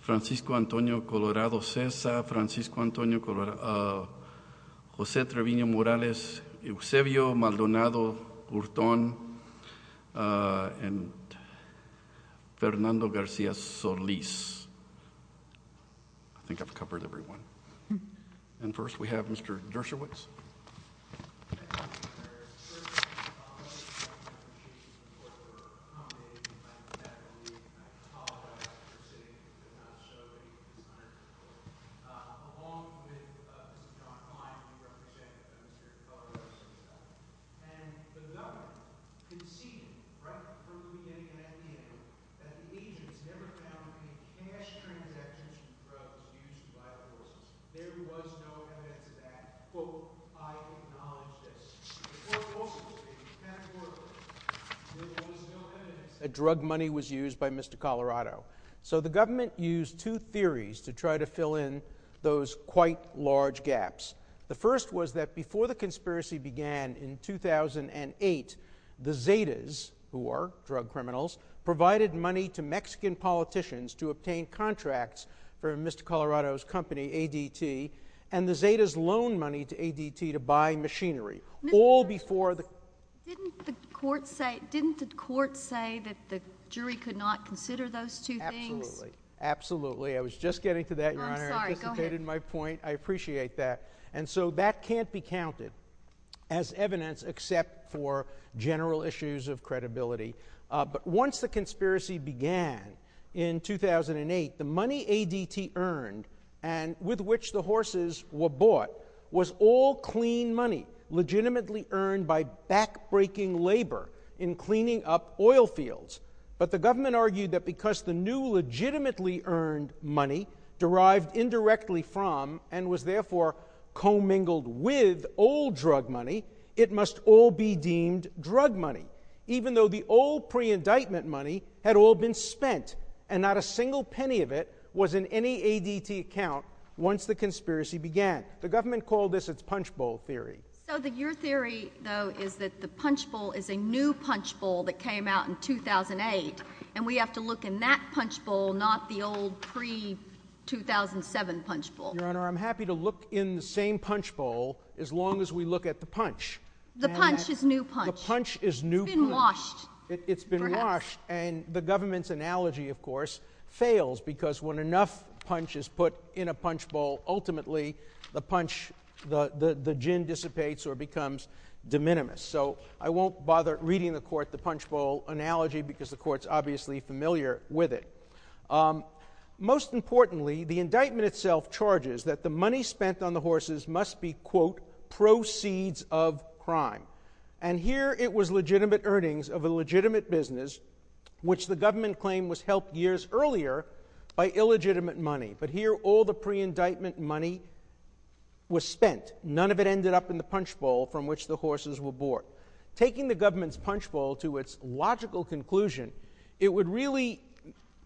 Francisco Antonio Colorado Cessa, Jose Trevino Morales, Eusebio Maldonado Hurton, and Fernando Garcia Solis. I think I've covered everyone. And first we have Mr. Dershowitz. Thank you, Mr. Mayor. First of all, I want to thank you for your support for accommodating me by the end of the week. I apologize for sitting and not showing you in time. Along with Mr. John Klein, who represented the Minister of Culture, and the Governor, conceding right from the beginning and at the end that the agents never found any cash transactions and drugs used by the horses. There was no evidence of that. Quote, I acknowledge this. Quote, quote, unquote. There was no evidence that drug money was used by Mr. Colorado. So the government used two theories to try to fill in those quite large gaps. The first was that before the conspiracy began in 2008, the Zetas, who are drug criminals, provided money to Mexican politicians to obtain contracts for Mr. Colorado's company, ADT, and the Zetas loaned money to ADT to buy machinery. All before the- Didn't the court say that the jury could not consider those two things? Absolutely. Absolutely. I was just getting to that, Your Honor. I'm sorry. Go ahead. I anticipated my point. I appreciate that. And so that can't be counted as evidence except for general issues of credibility. But once the conspiracy began in 2008, the money ADT earned and with which the horses were bought was all clean money, legitimately earned by backbreaking labor in cleaning up oil fields. But the government argued that because the new legitimately earned money derived indirectly from and was therefore commingled with old drug money, it must all be deemed drug money, even though the old pre-indictment money had all been spent, and not a single penny of it was in any ADT account once the conspiracy began. The government called this its punchbowl theory. So your theory, though, is that the punchbowl is a new punchbowl that came out in 2008, and we have to look in that punchbowl, not the old pre-2007 punchbowl. Your Honor, I'm happy to look in the same punchbowl as long as we look at the punch. The punch is new punch. The punch is new punch. It's been washed. It's been washed. And the government's analogy, of course, fails because when enough punch is put in a punchbowl, ultimately the punch, the gin dissipates or becomes de minimis. So I won't bother reading the court the punchbowl analogy because the court's obviously familiar with it. Most importantly, the indictment itself charges that the money spent on the horses must be, quote, proceeds of crime. And here it was legitimate earnings of a legitimate business, which the government claimed was helped years earlier by illegitimate money. But here all the pre-indictment money was spent. None of it ended up in the punchbowl from which the horses were bought. Taking the government's punchbowl to its logical conclusion, it would really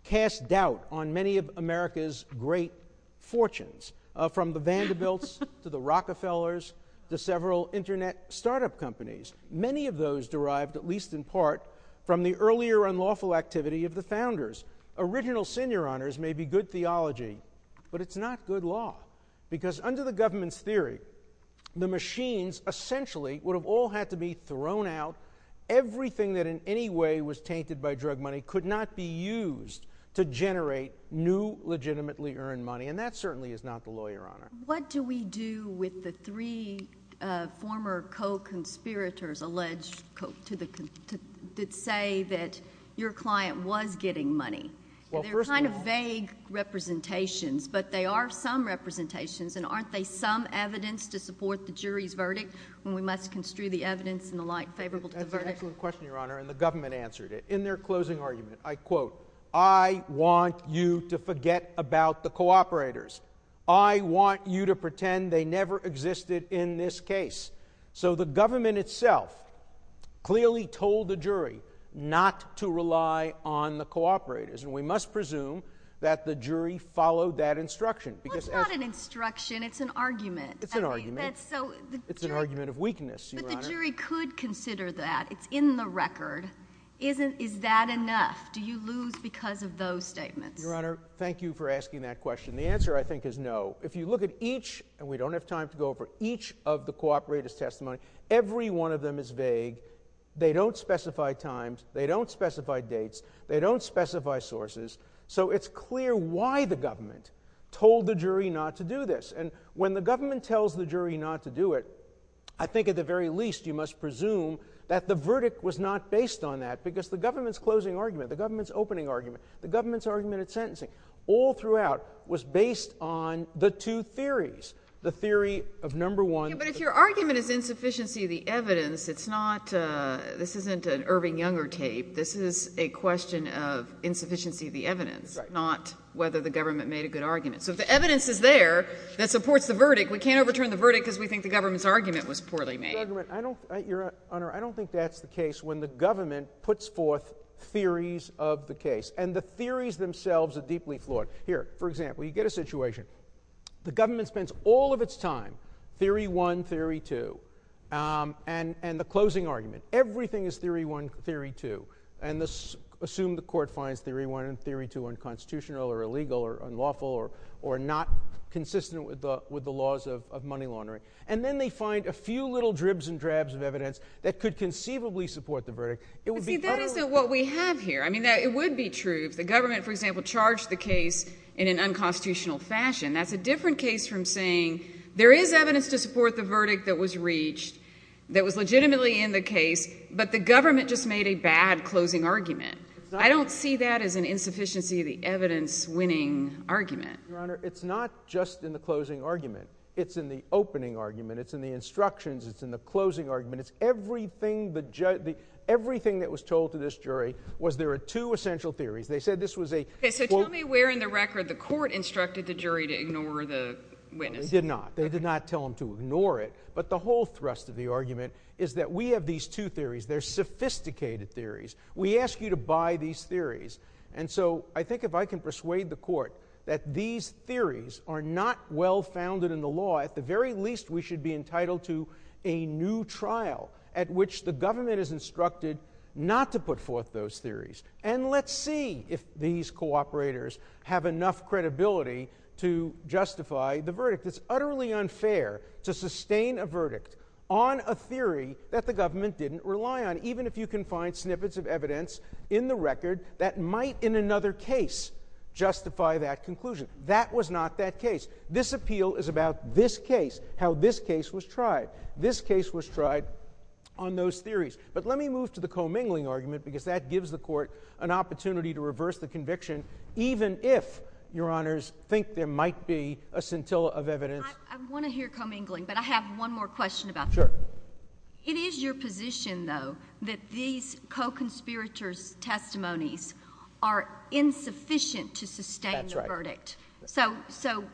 cast doubt on many of America's great fortunes, from the Vanderbilts to the Rockefellers to several Internet startup companies. Many of those derived, at least in part, from the earlier unlawful activity of the founders. Original sin, Your Honors, may be good theology, but it's not good law because under the government's theory, the machines essentially would have all had to be thrown out. Everything that in any way was tainted by drug money could not be used to generate new legitimately earned money, and that certainly is not the law, Your Honor. What do we do with the three former co-conspirators alleged to say that your client was getting money? They're kind of vague representations, but they are some representations, and aren't they some evidence to support the jury's verdict when we must construe the evidence in the light favorable to the verdict? That's an excellent question, Your Honor, and the government answered it. In their closing argument, I quote, I want you to forget about the co-operators. I want you to pretend they never existed in this case. So the government itself clearly told the jury not to rely on the co-operators, and we must presume that the jury followed that instruction. Well, it's not an instruction. It's an argument. It's an argument. It's an argument of weakness, Your Honor. But the jury could consider that. It's in the record. Is that enough? Do you lose because of those statements? Your Honor, thank you for asking that question. The answer, I think, is no. If you look at each, and we don't have time to go over each of the co-operators' testimony, every one of them is vague. They don't specify times. They don't specify dates. They don't specify sources. So it's clear why the government told the jury not to do this, and when the government tells the jury not to do it, I think at the very least you must presume that the verdict was not based on that because the government's closing argument, the government's opening argument, the government's argument at sentencing all throughout was based on the two theories, the theory of number one. But if your argument is insufficiency of the evidence, it's not – this isn't an Irving Younger tape. This is a question of insufficiency of the evidence, not whether the government made a good argument. So if the evidence is there that supports the verdict, we can't overturn the verdict because we think the government's argument was poorly made. Your Honor, I don't think that's the case when the government puts forth theories of the case, and the theories themselves are deeply flawed. Here, for example, you get a situation. The government spends all of its time theory one, theory two, and the closing argument. Everything is theory one, theory two, and assume the court finds theory one and theory two unconstitutional or illegal or unlawful or not consistent with the laws of money laundering. And then they find a few little dribs and drabs of evidence that could conceivably support the verdict. It would be utterly – But see, that isn't what we have here. I mean, it would be true if the government, for example, charged the case in an unconstitutional fashion. That's a different case from saying there is evidence to support the verdict that was reached, that was legitimately in the case, but the government just made a bad closing argument. I don't see that as an insufficiency of the evidence-winning argument. Your Honor, it's not just in the closing argument. It's in the opening argument. It's in the instructions. It's in the closing argument. It's everything that was told to this jury was there are two essential theories. They said this was a – Okay, so tell me where in the record the court instructed the jury to ignore the witness. They did not. They did not tell them to ignore it. But the whole thrust of the argument is that we have these two theories. They're sophisticated theories. We ask you to buy these theories. And so I think if I can persuade the court that these theories are not well-founded in the law, at the very least we should be entitled to a new trial at which the government is instructed not to put forth those theories. And let's see if these cooperators have enough credibility to justify the verdict. It's utterly unfair to sustain a verdict on a theory that the government didn't rely on, even if you can find snippets of evidence in the record that might in another case justify that conclusion. That was not that case. This appeal is about this case, how this case was tried. This case was tried on those theories. But let me move to the commingling argument because that gives the court an opportunity to reverse the conviction, even if, Your Honors, think there might be a scintilla of evidence. I want to hear commingling, but I have one more question about that. Sure. It is your position, though, that these co-conspirators' testimonies are insufficient to sustain the verdict. That's right. So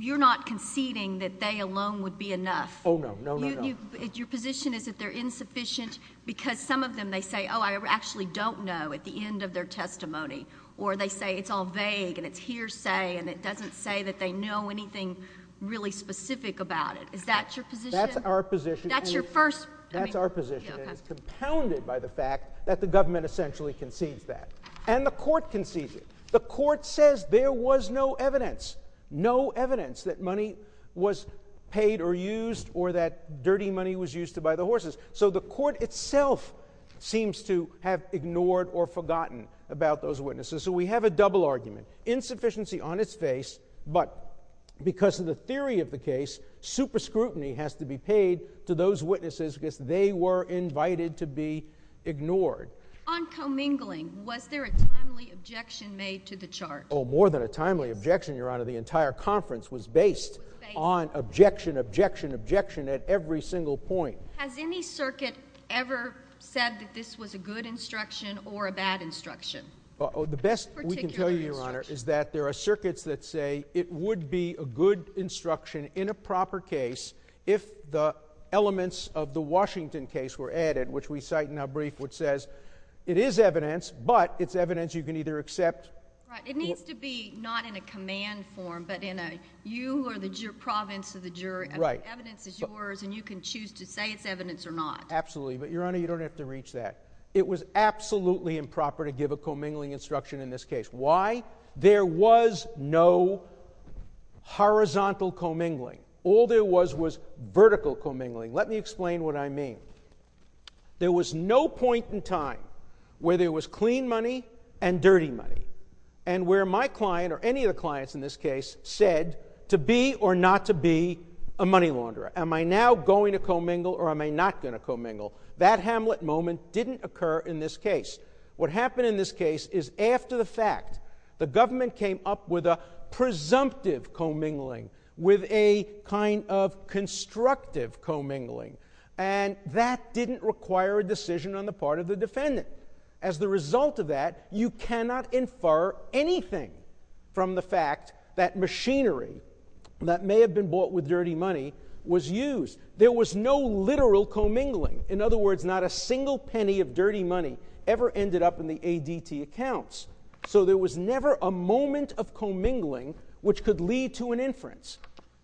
you're not conceding that they alone would be enough. Oh, no. No, no, no. Your position is that they're insufficient because some of them, they say, oh, I actually don't know at the end of their testimony, or they say it's all vague and it's hearsay and it doesn't say that they know anything really specific about it. Is that your position? That's our position. That's your first? That's our position, and it's compounded by the fact that the government essentially concedes that. And the court concedes it. The court says there was no evidence, no evidence that money was paid or used or that dirty money was used to buy the horses. So the court itself seems to have ignored or forgotten about those witnesses. So we have a double argument, insufficiency on its face, but because of the theory of the case, super scrutiny has to be paid to those witnesses because they were invited to be ignored. On commingling, was there a timely objection made to the charge? Oh, more than a timely objection, Your Honor. The entire conference was based on objection, objection, objection at every single point. Has any circuit ever said that this was a good instruction or a bad instruction? The best we can tell you, Your Honor, is that there are circuits that say it would be a good instruction in a proper case if the elements of the Washington case were added, which we cite in our brief, which says it is evidence, but it's evidence you can either accept. Right. It needs to be not in a command form, but in a you are the province of the jury, and the evidence is yours, and you can choose to say it's evidence or not. Absolutely. But, Your Honor, you don't have to reach that. It was absolutely improper to give a commingling instruction in this case. Why? There was no horizontal commingling. All there was was vertical commingling. Let me explain what I mean. There was no point in time where there was clean money and dirty money, and where my client, or any of the clients in this case, said to be or not to be a money launderer. Am I now going to commingle or am I not going to commingle? That Hamlet moment didn't occur in this case. What happened in this case is after the fact, the government came up with a presumptive commingling, with a kind of constructive commingling, and that didn't require a decision on the part of the defendant. As the result of that, you cannot infer anything from the fact that machinery that may have been bought with dirty money was used. There was no literal commingling. In other words, not a single penny of dirty money ever ended up in the ADT accounts. So there was never a moment of commingling which could lead to an inference.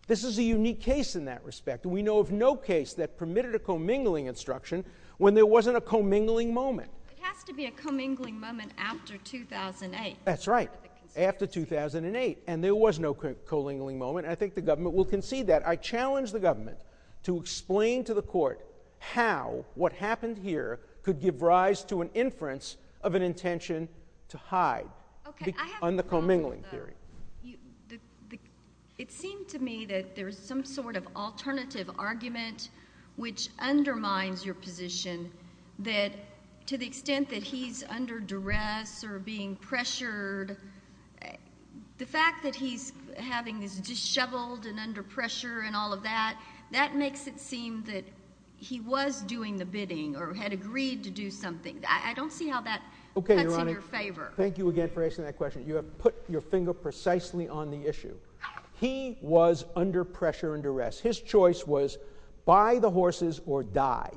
This is a unique case in that respect, and we know of no case that permitted a commingling instruction when there wasn't a commingling moment. It has to be a commingling moment after 2008. That's right, after 2008, and there was no commingling moment, and I think the government will concede that. I challenge the government to explain to the court how what happened here could give rise to an inference of an intention to hide on the commingling theory. It seemed to me that there was some sort of alternative argument which undermines your position that to the extent that he's under duress or being pressured, the fact that he's having this disheveled and under pressure and all of that, that makes it seem that he was doing the bidding or had agreed to do something. I don't see how that cuts in your favor. Okay, Your Honor, thank you again for asking that question. You have put your finger precisely on the issue. He was under pressure and duress. His choice was buy the horses or die.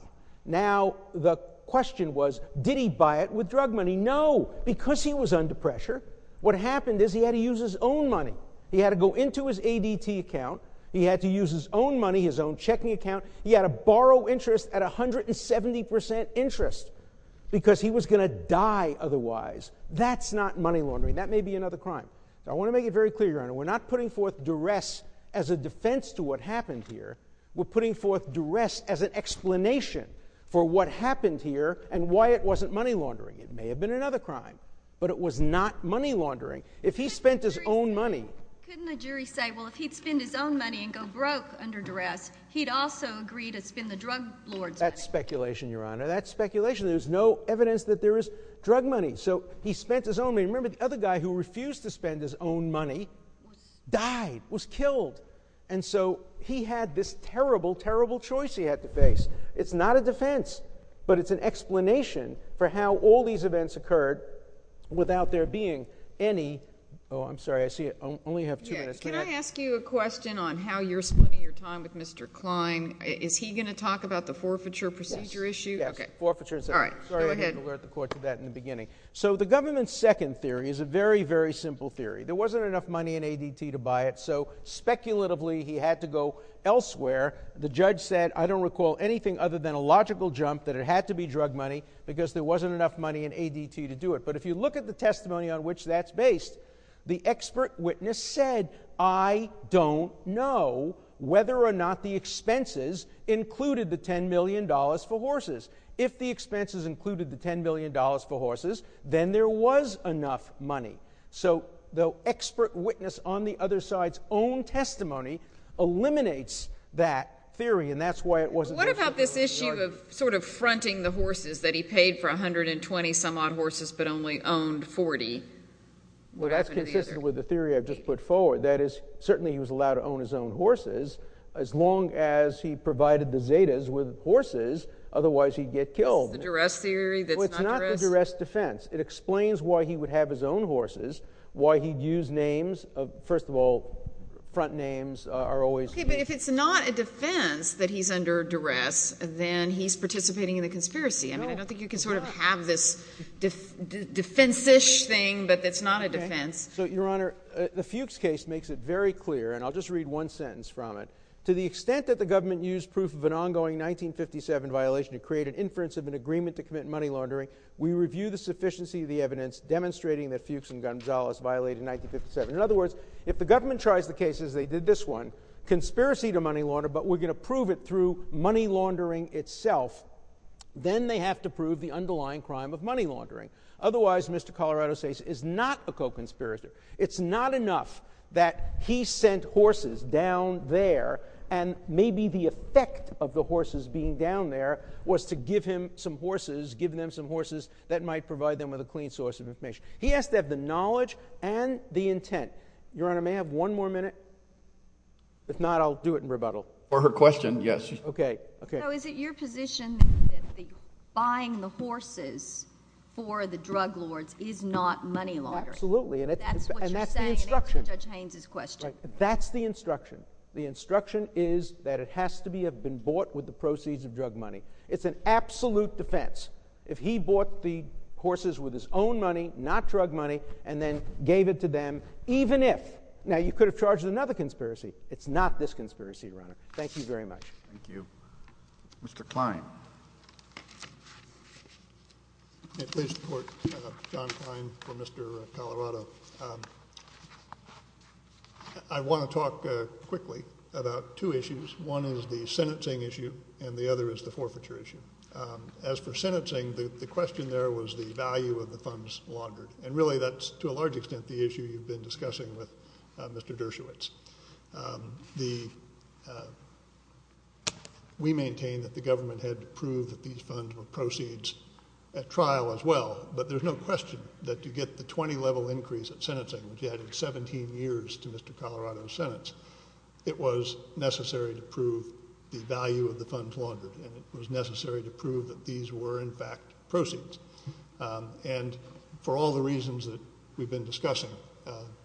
Now the question was, did he buy it with drug money? No. Because he was under pressure, what happened is he had to use his own money. He had to go into his ADT account. He had to use his own money, his own checking account. He had to borrow interest at 170% interest because he was going to die otherwise. That's not money laundering. That may be another crime. I want to make it very clear, Your Honor, we're not putting forth duress as a defense to what happened here. We're putting forth duress as an explanation for what happened here and why it wasn't money laundering. It may have been another crime, but it was not money laundering. If he spent his own money... Couldn't the jury say, well, if he'd spend his own money and go broke under duress, he'd also agree to spend the drug lord's money? That's speculation, Your Honor. That's speculation. There's no evidence that there is drug money. So he spent his own money. Remember, the other guy who refused to spend his own money died, was killed. And so he had this terrible, terrible choice he had to face. It's not a defense, but it's an explanation for how all these events occurred without there being any... Oh, I'm sorry, I see I only have two minutes. Can I ask you a question on how you're spending your time with Mr. Klein? Is he going to talk about the forfeiture procedure issue? Yes. Yes, forfeiture. All right, go ahead. Sorry I had to alert the court to that in the beginning. So the government's second theory is a very, very simple theory. There wasn't enough money in ADT to buy it, so speculatively he had to go elsewhere. The judge said, I don't recall anything other than a logical jump that it had to be drug money because there wasn't enough money in ADT to do it. But if you look at the testimony on which that's based, the expert witness said, I don't know whether or not the expenses included the $10 million for horses. If the expenses included the $10 million for horses, then there was enough money. So the expert witness on the other side's own testimony eliminates that theory, and that's why it wasn't... What about this issue of sort of fronting the horses, that he paid for 120 some odd horses but only owned 40? Well, that's consistent with the theory I've just put forward. That is, certainly he was allowed to own his own horses as long as he provided the Zetas with horses. Otherwise, he'd get killed. It's the duress theory that's not duress? Well, it's not the duress defense. It explains why he would have his own horses, why he'd use names. First of all, front names are always... Okay, but if it's not a defense that he's under duress, then he's participating in the conspiracy. I mean, I don't think you can sort of have this defense-ish thing, but it's not a defense. So, Your Honor, the Fuchs case makes it very clear, and I'll just read one sentence from it. To the extent that the government used proof of an ongoing 1957 violation to create an inference of an agreement to commit money laundering, we review the sufficiency of the evidence demonstrating that Fuchs and Gonzales violated 1957. In other words, if the government tries the case as they did this one, conspiracy to money laundering, but we're going to prove it through money laundering itself, then they have to prove the underlying crime of money laundering. Otherwise, Mr. Colorado's case is not a co-conspiracy. It's not enough that he sent horses down there, and maybe the effect of the horses being down there was to give him some horses, give them some horses that might provide them with a clean source of information. He has to have the knowledge and the intent. Your Honor, may I have one more minute? If not, I'll do it in rebuttal. For her question, yes. Okay. So, is it your position that buying the horses for the drug lords is not money laundering? Absolutely, and that's the instruction. That's what you're saying in answer to Judge Haynes' question. That's the instruction. The instruction is that it has to have been bought with the proceeds of drug money. It's an absolute defense. If he bought the horses with his own money, not drug money, and then gave it to them, even if. Now, you could have charged another conspiracy. It's not this conspiracy, Your Honor. Thank you very much. Thank you. Mr. Kline. May I please report? John Kline for Mr. Colorado. I want to talk quickly about two issues. One is the sentencing issue, and the other is the forfeiture issue. As for sentencing, the question there was the value of the funds laundered, and really that's, to a large extent, the issue you've been discussing with Mr. Dershowitz. We maintain that the government had to prove that these funds were proceeds at trial as well, but there's no question that to get the 20-level increase at sentencing, which added 17 years to Mr. Colorado's sentence, it was necessary to prove the value of the funds laundered, and it was necessary to prove that these were, in fact, proceeds. And for all the reasons that we've been discussing,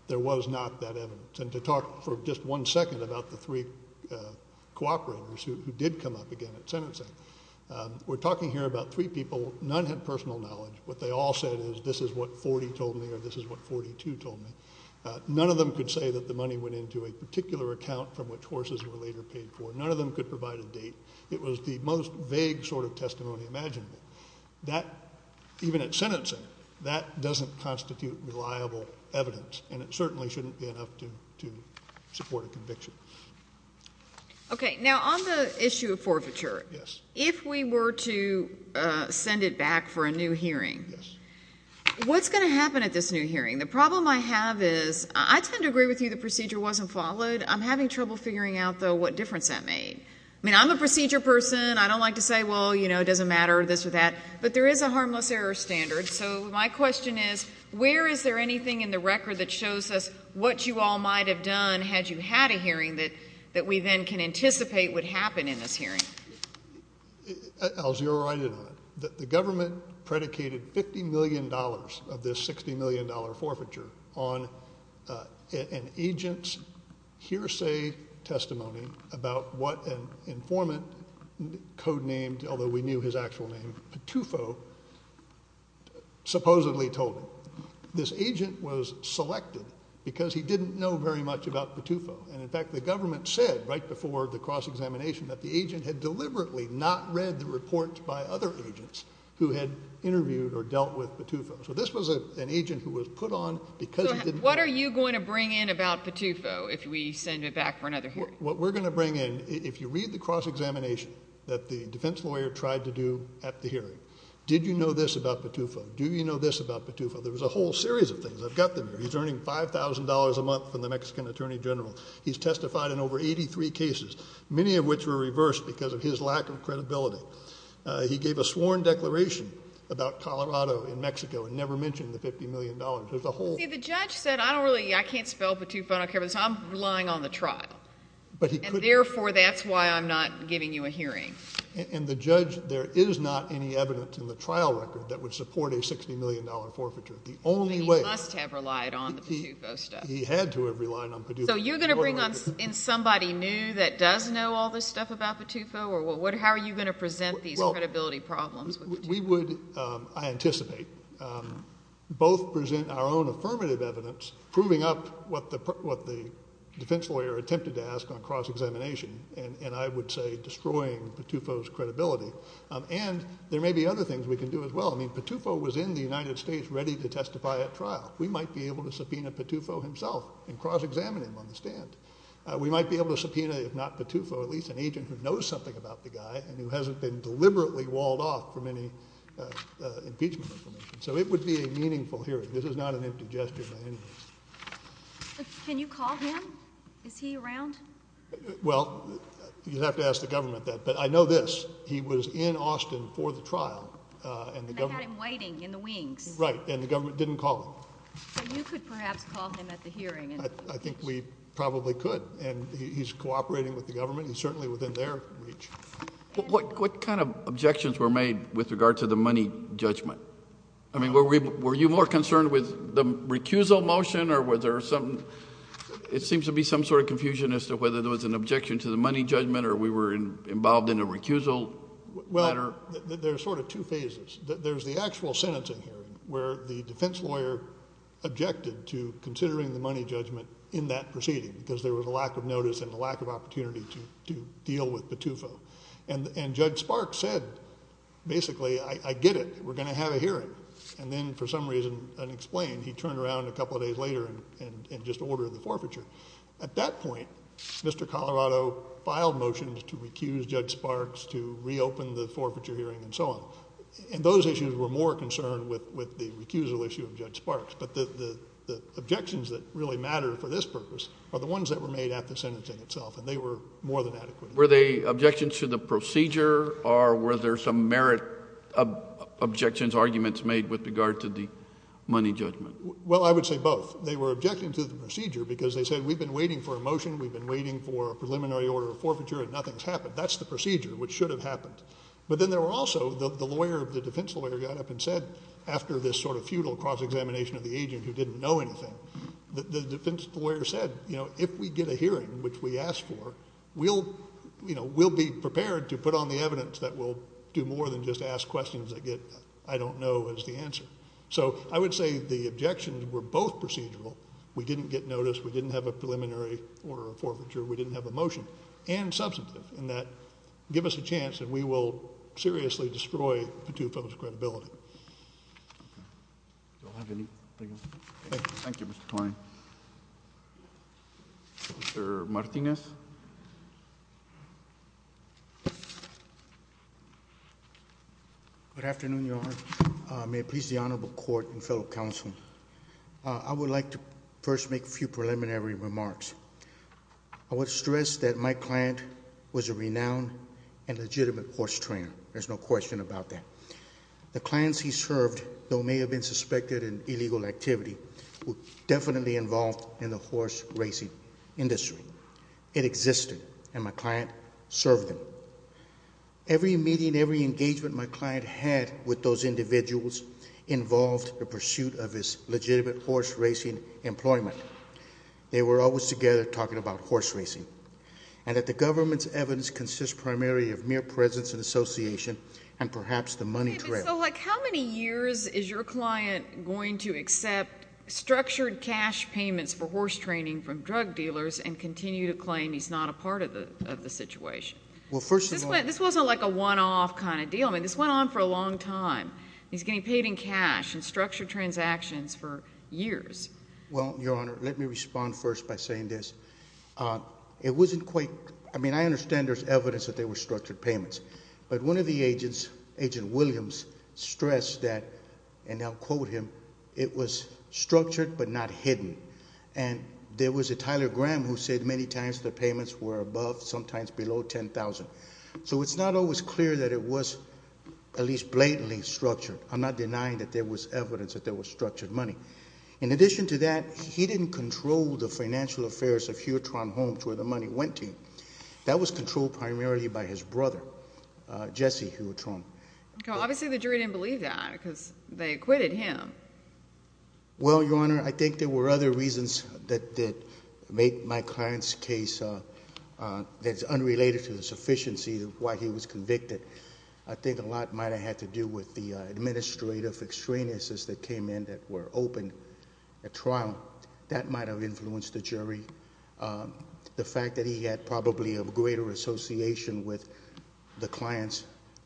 there was not that evidence. And to talk for just one second about the three cooperators who did come up again at sentencing, we're talking here about three people. None had personal knowledge. What they all said is this is what 40 told me or this is what 42 told me. None of them could say that the money went into a particular account from which horses were later paid for. None of them could provide a date. It was the most vague sort of testimony imaginable. That, even at sentencing, that doesn't constitute reliable evidence, and it certainly shouldn't be enough to support a conviction. Okay. Now, on the issue of forfeiture, if we were to send it back for a new hearing, what's going to happen at this new hearing? The problem I have is I tend to agree with you the procedure wasn't followed. I'm having trouble figuring out, though, what difference that made. I mean, I'm a procedure person. I don't like to say, well, you know, it doesn't matter, this or that, but there is a harmless error standard. So my question is, where is there anything in the record that shows us what you all might have done had you had a hearing that we then can anticipate would happen in this hearing? I'll zero right in on it. The government predicated $50 million of this $60 million forfeiture on an agent's hearsay testimony about what an informant codenamed, although we knew his actual name, Patufo, supposedly told him. This agent was selected because he didn't know very much about Patufo. And, in fact, the government said right before the cross-examination that the agent had deliberately not read the reports by other agents who had interviewed or dealt with Patufo. So this was an agent who was put on because he didn't know. So what are you going to bring in about Patufo if we send it back for another hearing? What we're going to bring in, if you read the cross-examination that the defense lawyer tried to do at the hearing, did you know this about Patufo? Do you know this about Patufo? There was a whole series of things. I've got them here. He's earning $5,000 a month from the Mexican attorney general. He's testified in over 83 cases, many of which were reversed because of his lack of credibility. He gave a sworn declaration about Colorado and Mexico and never mentioned the $50 million. There's a whole— See, the judge said, I don't really, I can't spell Patufo. I'm relying on the trial. And, therefore, that's why I'm not giving you a hearing. And the judge, there is not any evidence in the trial record that would support a $60 million forfeiture. The only way— But he must have relied on the Patufo stuff. He had to have relied on Patufo. So you're going to bring in somebody new that does know all this stuff about Patufo? How are you going to present these credibility problems with Patufo? We would, I anticipate, both present our own affirmative evidence, proving up what the defense lawyer attempted to ask on cross-examination, and I would say destroying Patufo's credibility. And there may be other things we can do as well. I mean, Patufo was in the United States ready to testify at trial. We might be able to subpoena Patufo himself and cross-examine him on the stand. We might be able to subpoena, if not Patufo, at least an agent who knows something about the guy and who hasn't been deliberately walled off from any impeachment information. So it would be a meaningful hearing. This is not an empty gesture by any means. Can you call him? Is he around? Well, you'd have to ask the government that. But I know this. He was in Austin for the trial. And they had him waiting in the wings. Right, and the government didn't call him. But you could perhaps call him at the hearing. I think we probably could. And he's cooperating with the government. He's certainly within their reach. What kind of objections were made with regard to the money judgment? I mean, were you more concerned with the recusal motion or was there something? It seems to be some sort of confusion as to whether there was an objection to the money judgment or we were involved in a recusal matter. Well, there's sort of two phases. There's the actual sentencing hearing where the defense lawyer objected to considering the money judgment in that proceeding because there was a lack of notice and a lack of opportunity to deal with Patufo. And Judge Sparks said, basically, I get it. We're going to have a hearing. And then for some reason unexplained he turned around a couple of days later and just ordered the forfeiture. At that point, Mr. Colorado filed motions to recuse Judge Sparks to reopen the forfeiture hearing and so on. And those issues were more concerned with the recusal issue of Judge Sparks. But the objections that really mattered for this purpose are the ones that were made at the sentencing itself, and they were more than adequate. Were they objections to the procedure or were there some merit objections, arguments made with regard to the money judgment? Well, I would say both. They were objecting to the procedure because they said we've been waiting for a motion, we've been waiting for a preliminary order of forfeiture, and nothing's happened. That's the procedure, which should have happened. But then there were also the defense lawyer got up and said, after this sort of futile cross-examination of the agent who didn't know anything, the defense lawyer said, you know, if we get a hearing, which we asked for, we'll be prepared to put on the evidence that we'll do more than just ask questions that get I don't know as the answer. So I would say the objections were both procedural. We didn't get notice. We didn't have a preliminary order of forfeiture. We didn't have a motion, and substantive, in that give us a chance and we will seriously destroy Patufo's credibility. Okay. Do you all have anything else? Thank you. Thank you, Mr. Coyne. Mr. Martinez? Good afternoon, Your Honor. May it please the Honorable Court and fellow counsel, I would like to first make a few preliminary remarks. I would stress that my client was a renowned and legitimate horse trainer. There's no question about that. The clients he served, though may have been suspected in illegal activity, were definitely involved in the horse racing industry. It existed, and my client served them. Every meeting, every engagement my client had with those individuals involved the pursuit of his legitimate horse racing employment. They were always together talking about horse racing, and that the government's evidence consists primarily of mere presence and association and perhaps the money trail. How many years is your client going to accept structured cash payments for horse training from drug dealers and continue to claim he's not a part of the situation? This wasn't like a one-off kind of deal. I mean, this went on for a long time. He's getting paid in cash and structured transactions for years. Well, Your Honor, let me respond first by saying this. It wasn't quite ñ I mean, I understand there's evidence that they were structured payments, but one of the agents, Agent Williams, stressed that, and I'll quote him, it was structured but not hidden. And there was a Tyler Graham who said many times the payments were above, sometimes below $10,000. So it's not always clear that it was at least blatantly structured. I'm not denying that there was evidence that there was structured money. In addition to that, he didn't control the financial affairs of Huotron Homes where the money went to. That was controlled primarily by his brother, Jesse Huotron. Well, obviously the jury didn't believe that because they acquitted him. Well, Your Honor, I think there were other reasons that made my client's case that's unrelated to the sufficiency of why he was convicted. I think a lot might have had to do with the administrative extraneous that came in that were open at trial. That might have influenced the jury. The fact that he had probably a greater association with the clients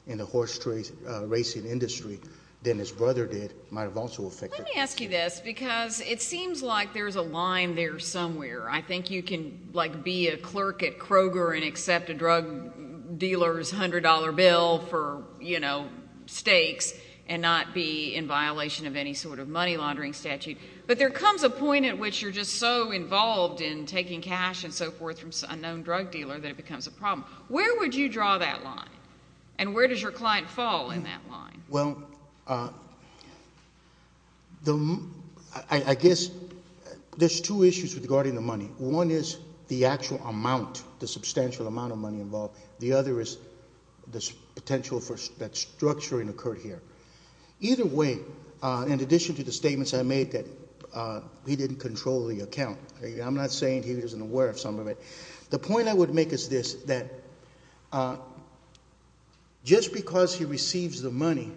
in the horse racing industry than his brother did might have also affected it. Let me ask you this because it seems like there's a line there somewhere. I think you can, like, be a clerk at Kroger and accept a drug dealer's $100 bill for, you know, stakes and not be in violation of any sort of money laundering statute. But there comes a point at which you're just so involved in taking cash and so forth from an unknown drug dealer that it becomes a problem. Where would you draw that line? And where does your client fall in that line? Well, I guess there's two issues regarding the money. One is the actual amount, the substantial amount of money involved. The other is the potential for that structuring occurred here. Either way, in addition to the statements I made that he didn't control the account, I'm not saying he wasn't aware of some of it, the point I would make is this, that just because he receives the money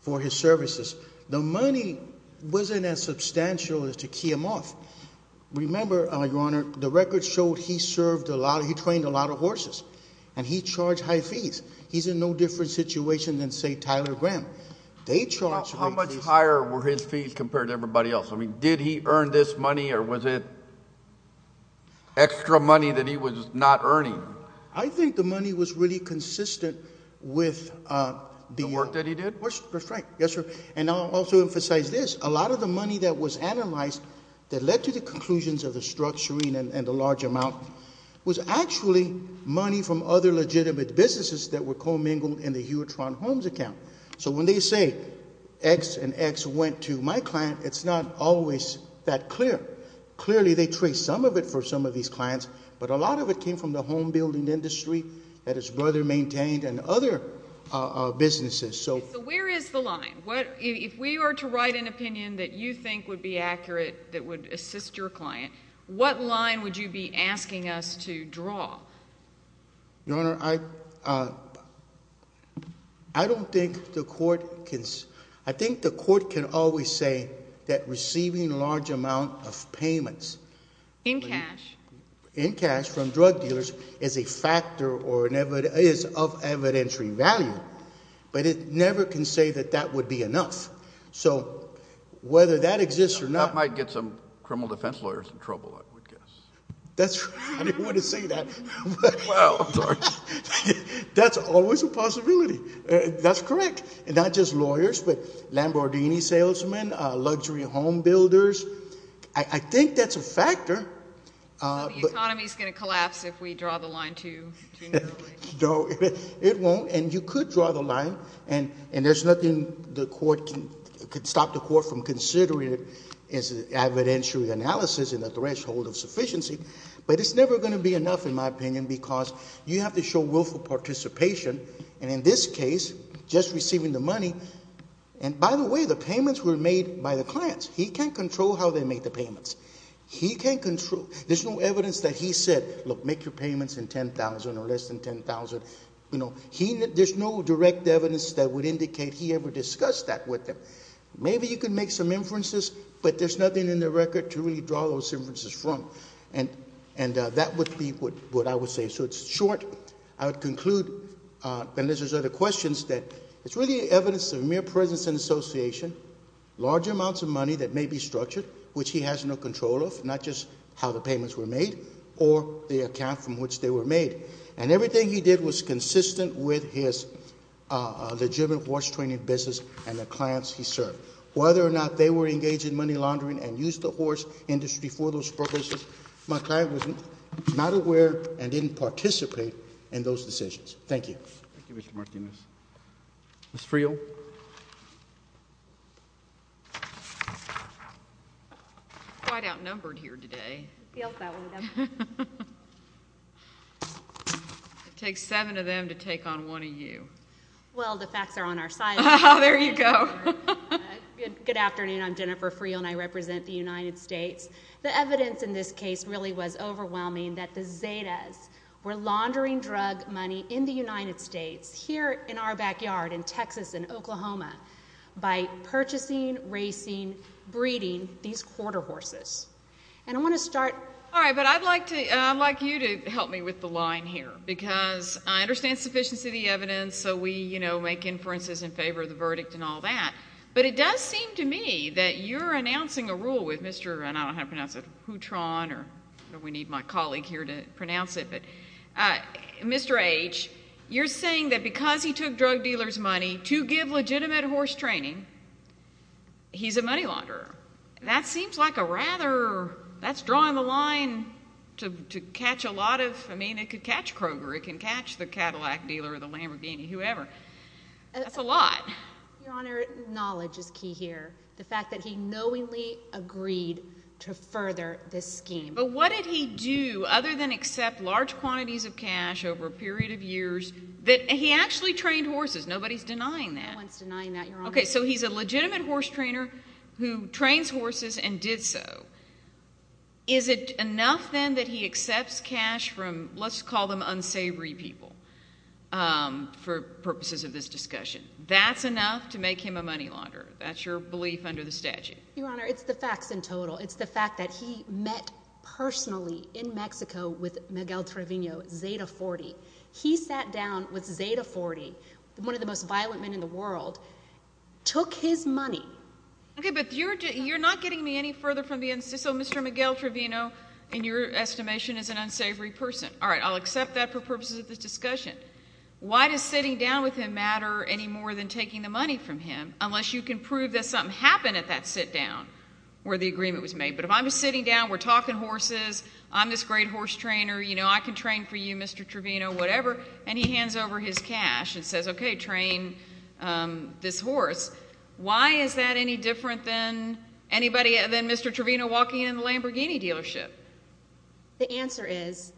for his services, the money wasn't as substantial as to key him off. Remember, Your Honor, the records showed he served a lot, he trained a lot of horses, and he charged high fees. He's in no different situation than, say, Tyler Graham. How much higher were his fees compared to everybody else? I mean, did he earn this money or was it extra money that he was not earning? I think the money was really consistent with the work that he did. That's right. Yes, sir. And I'll also emphasize this. A lot of the money that was analyzed that led to the conclusions of the structuring and the large amount was actually money from other legitimate businesses that were commingled in the Hewlett-Toronto Homes account. So when they say X and X went to my client, it's not always that clear. Clearly they trace some of it for some of these clients, but a lot of it came from the home building industry that his brother maintained and other businesses. So where is the line? If we were to write an opinion that you think would be accurate that would assist your client, what line would you be asking us to draw? Your Honor, I don't think the court can... I think the court can always say that receiving a large amount of payments... In cash. In cash from drug dealers is a factor or is of evidentiary value, but it never can say that that would be enough. So whether that exists or not... That might get some criminal defense lawyers in trouble, I would guess. That's right. I didn't want to say that. Wow. I'm sorry. That's always a possibility. That's correct. Not just lawyers, but Lamborghini salesmen, luxury home builders. I think that's a factor. So the economy is going to collapse if we draw the line too nearly. No, it won't, and you could draw the line, and there's nothing the court can stop the court from considering as evidentiary analysis in the threshold of sufficiency. But it's never going to be enough, in my opinion, because you have to show willful participation, and in this case, just receiving the money... And by the way, the payments were made by the clients. He can't control how they make the payments. He can't control... There's no evidence that he said, look, make your payments in $10,000 or less than $10,000. There's no direct evidence that would indicate he ever discussed that with them. Maybe you can make some inferences, but there's nothing in the record to really draw those inferences from. And that would be what I would say. So it's short. I would conclude, unless there's other questions, that it's really evidence of mere presence and association, large amounts of money that may be structured, which he has no control of, not just how the payments were made or the account from which they were made. And everything he did was consistent with his legitimate horse training business and the clients he served. Whether or not they were engaged in money laundering and used the horse industry for those purposes, my client was not aware and didn't participate in those decisions. Thank you. Thank you, Mr. Martinez. Ms. Friel. Quite outnumbered here today. It feels that way to them. It takes seven of them to take on one of you. Well, the facts are on our side. There you go. Good afternoon. I'm Jennifer Friel, and I represent the United States. The evidence in this case really was overwhelming, that the Zetas were laundering drug money in the United States, here in our backyard in Texas and Oklahoma, by purchasing, racing, breeding these quarter horses. And I want to start. All right, but I'd like you to help me with the line here, because I understand sufficiency of the evidence, so we make inferences in favor of the verdict and all that. But it does seem to me that you're announcing a rule with Mr. And I don't know how to pronounce it, Houtron, or we need my colleague here to pronounce it. Mr. H., you're saying that because he took drug dealers' money to give legitimate horse training, he's a money launderer. That seems like a rather – that's drawing the line to catch a lot of – I mean, it could catch Kroger. It can catch the Cadillac dealer or the Lamborghini, whoever. That's a lot. Your Honor, knowledge is key here. The fact that he knowingly agreed to further this scheme. But what did he do, other than accept large quantities of cash over a period of years that – he actually trained horses. Nobody's denying that. No one's denying that, Your Honor. Okay, so he's a legitimate horse trainer who trains horses and did so. Is it enough, then, that he accepts cash from let's call them unsavory people for purposes of this discussion? That's enough to make him a money launderer? That's your belief under the statute? Your Honor, it's the facts in total. It's the fact that he met personally in Mexico with Miguel Trevino, Zeta 40. He sat down with Zeta 40, one of the most violent men in the world, took his money. Okay, but you're not getting me any further from the – so Mr. Miguel Trevino, in your estimation, is an unsavory person. All right, I'll accept that for purposes of this discussion. Why does sitting down with him matter any more than taking the money from him unless you can prove that something happened at that sit down where the agreement was made? But if I'm sitting down, we're talking horses, I'm this great horse trainer, I can train for you, Mr. Trevino, whatever, and he hands over his cash and says, okay, train this horse. Why is that any different than Mr. Trevino walking in the Lamborghini dealership? The answer is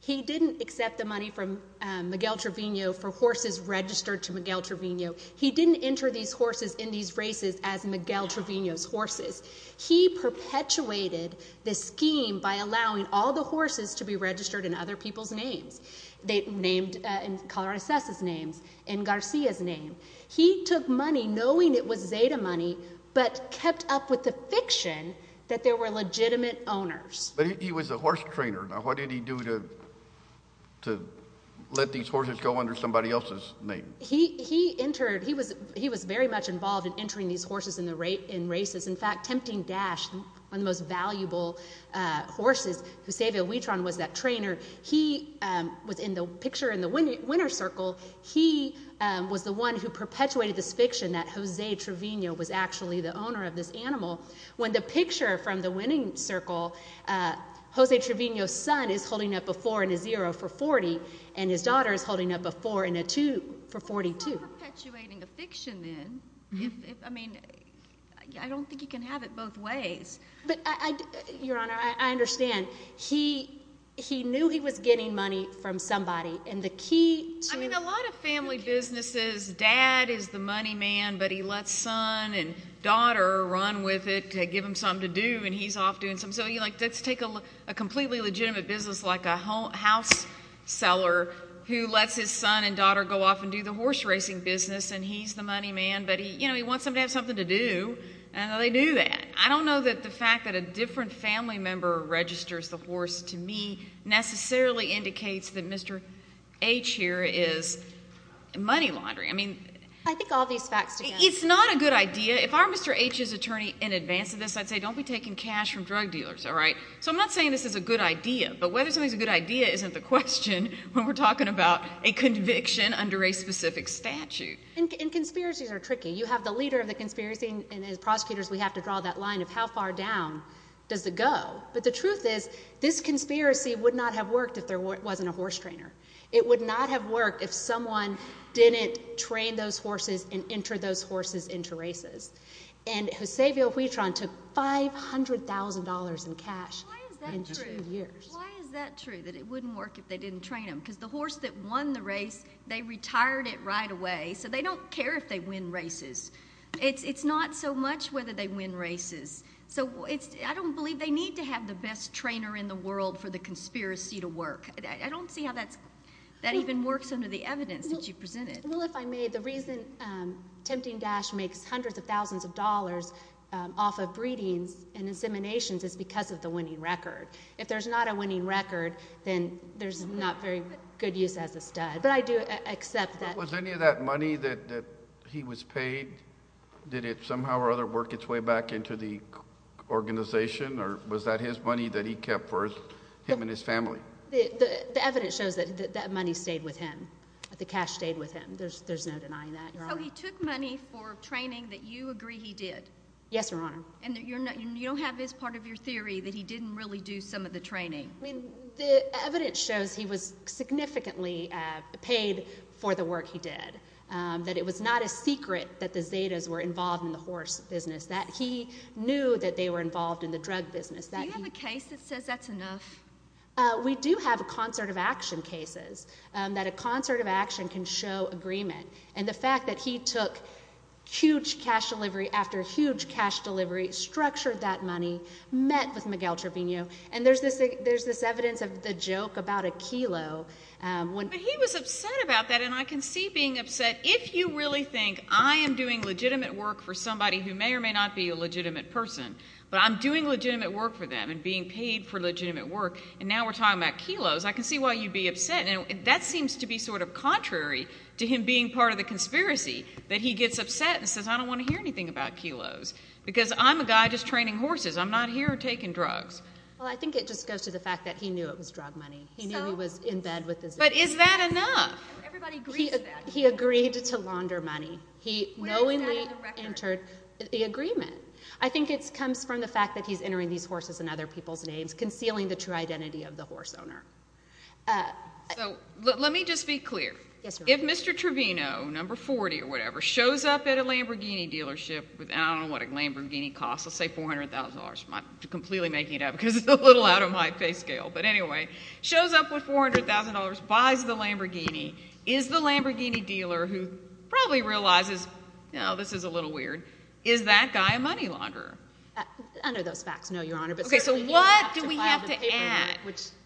he didn't accept the money from Miguel Trevino for horses registered to Miguel Trevino. He didn't enter these horses in these races as Miguel Trevino's horses. He perpetuated the scheme by allowing all the horses to be registered in other people's names, named in Caracasa's name, in Garcia's name. He took money knowing it was Zeta money but kept up with the fiction that there were legitimate owners. But he was a horse trainer. Now, what did he do to let these horses go under somebody else's name? He entered – he was very much involved in entering these horses in races. In fact, Tempting Dash, one of the most valuable horses, because Jose Villawitran was that trainer, he was in the picture in the winner's circle. He was the one who perpetuated this fiction that Jose Trevino was actually the owner of this animal. When the picture from the winning circle, Jose Trevino's son is holding up a 4 and a 0 for 40, and his daughter is holding up a 4 and a 2 for 42. You're perpetuating a fiction then. I mean, I don't think you can have it both ways. But, Your Honor, I understand. He knew he was getting money from somebody. And the key to – I mean, a lot of family businesses, dad is the money man, but he lets son and daughter run with it to give him something to do, and he's off doing something. So let's take a completely legitimate business like a house seller who lets his son and daughter go off and do the horse racing business, and he's the money man. But he wants them to have something to do, and they do that. I don't know that the fact that a different family member registers the horse to me necessarily indicates that Mr. H here is money laundering. I think all these facts together. It's not a good idea. If I were Mr. H's attorney in advance of this, I'd say don't be taking cash from drug dealers. So I'm not saying this is a good idea, but whether something's a good idea isn't the question when we're talking about a conviction under a specific statute. And conspiracies are tricky. You have the leader of the conspiracy, and as prosecutors we have to draw that line of how far down does it go. But the truth is this conspiracy would not have worked if there wasn't a horse trainer. It would not have worked if someone didn't train those horses and enter those horses into races. And Jose Villahuitlán took $500,000 in cash in two years. Why is that true, that it wouldn't work if they didn't train them? Because the horse that won the race, they retired it right away, so they don't care if they win races. It's not so much whether they win races. So I don't believe they need to have the best trainer in the world for the conspiracy to work. I don't see how that even works under the evidence that you presented. Well, if I may, the reason Tempting Dash makes hundreds of thousands of dollars off of breedings and inseminations is because of the winning record. If there's not a winning record, then there's not very good use as a stud. But I do accept that. Was any of that money that he was paid, did it somehow or other work its way back into the organization, or was that his money that he kept for him and his family? The evidence shows that that money stayed with him, that the cash stayed with him. There's no denying that, Your Honor. So he took money for training that you agree he did? Yes, Your Honor. And you don't have as part of your theory that he didn't really do some of the training? The evidence shows he was significantly paid for the work he did, that it was not a secret that the Zetas were involved in the horse business, that he knew that they were involved in the drug business. Do you have a case that says that's enough? We do have concert of action cases that a concert of action can show agreement. And the fact that he took huge cash delivery after huge cash delivery, structured that money, met with Miguel Trevino, and there's this evidence of the joke about a kilo. But he was upset about that, and I can see being upset. If you really think I am doing legitimate work for somebody who may or may not be a legitimate person, but I'm doing legitimate work for them and being paid for legitimate work, and now we're talking about kilos, I can see why you'd be upset. That seems to be sort of contrary to him being part of the conspiracy, that he gets upset and says, I don't want to hear anything about kilos, because I'm a guy just training horses. I'm not here taking drugs. Well, I think it just goes to the fact that he knew it was drug money. He knew he was in bed with this. But is that enough? He agreed to launder money. He knowingly entered the agreement. I think it comes from the fact that he's entering these horses in other people's names, concealing the true identity of the horse owner. Let me just be clear. If Mr. Trevino, number 40 or whatever, shows up at a Lamborghini dealership with, I don't know what a Lamborghini costs, let's say $400,000. I'm completely making it up because it's a little out of my pay scale. But anyway, shows up with $400,000, buys the Lamborghini, is the Lamborghini dealer who probably realizes, you know, this is a little weird, is that guy a money launderer? Under those facts, no, Your Honor. Okay, so what do we have to add?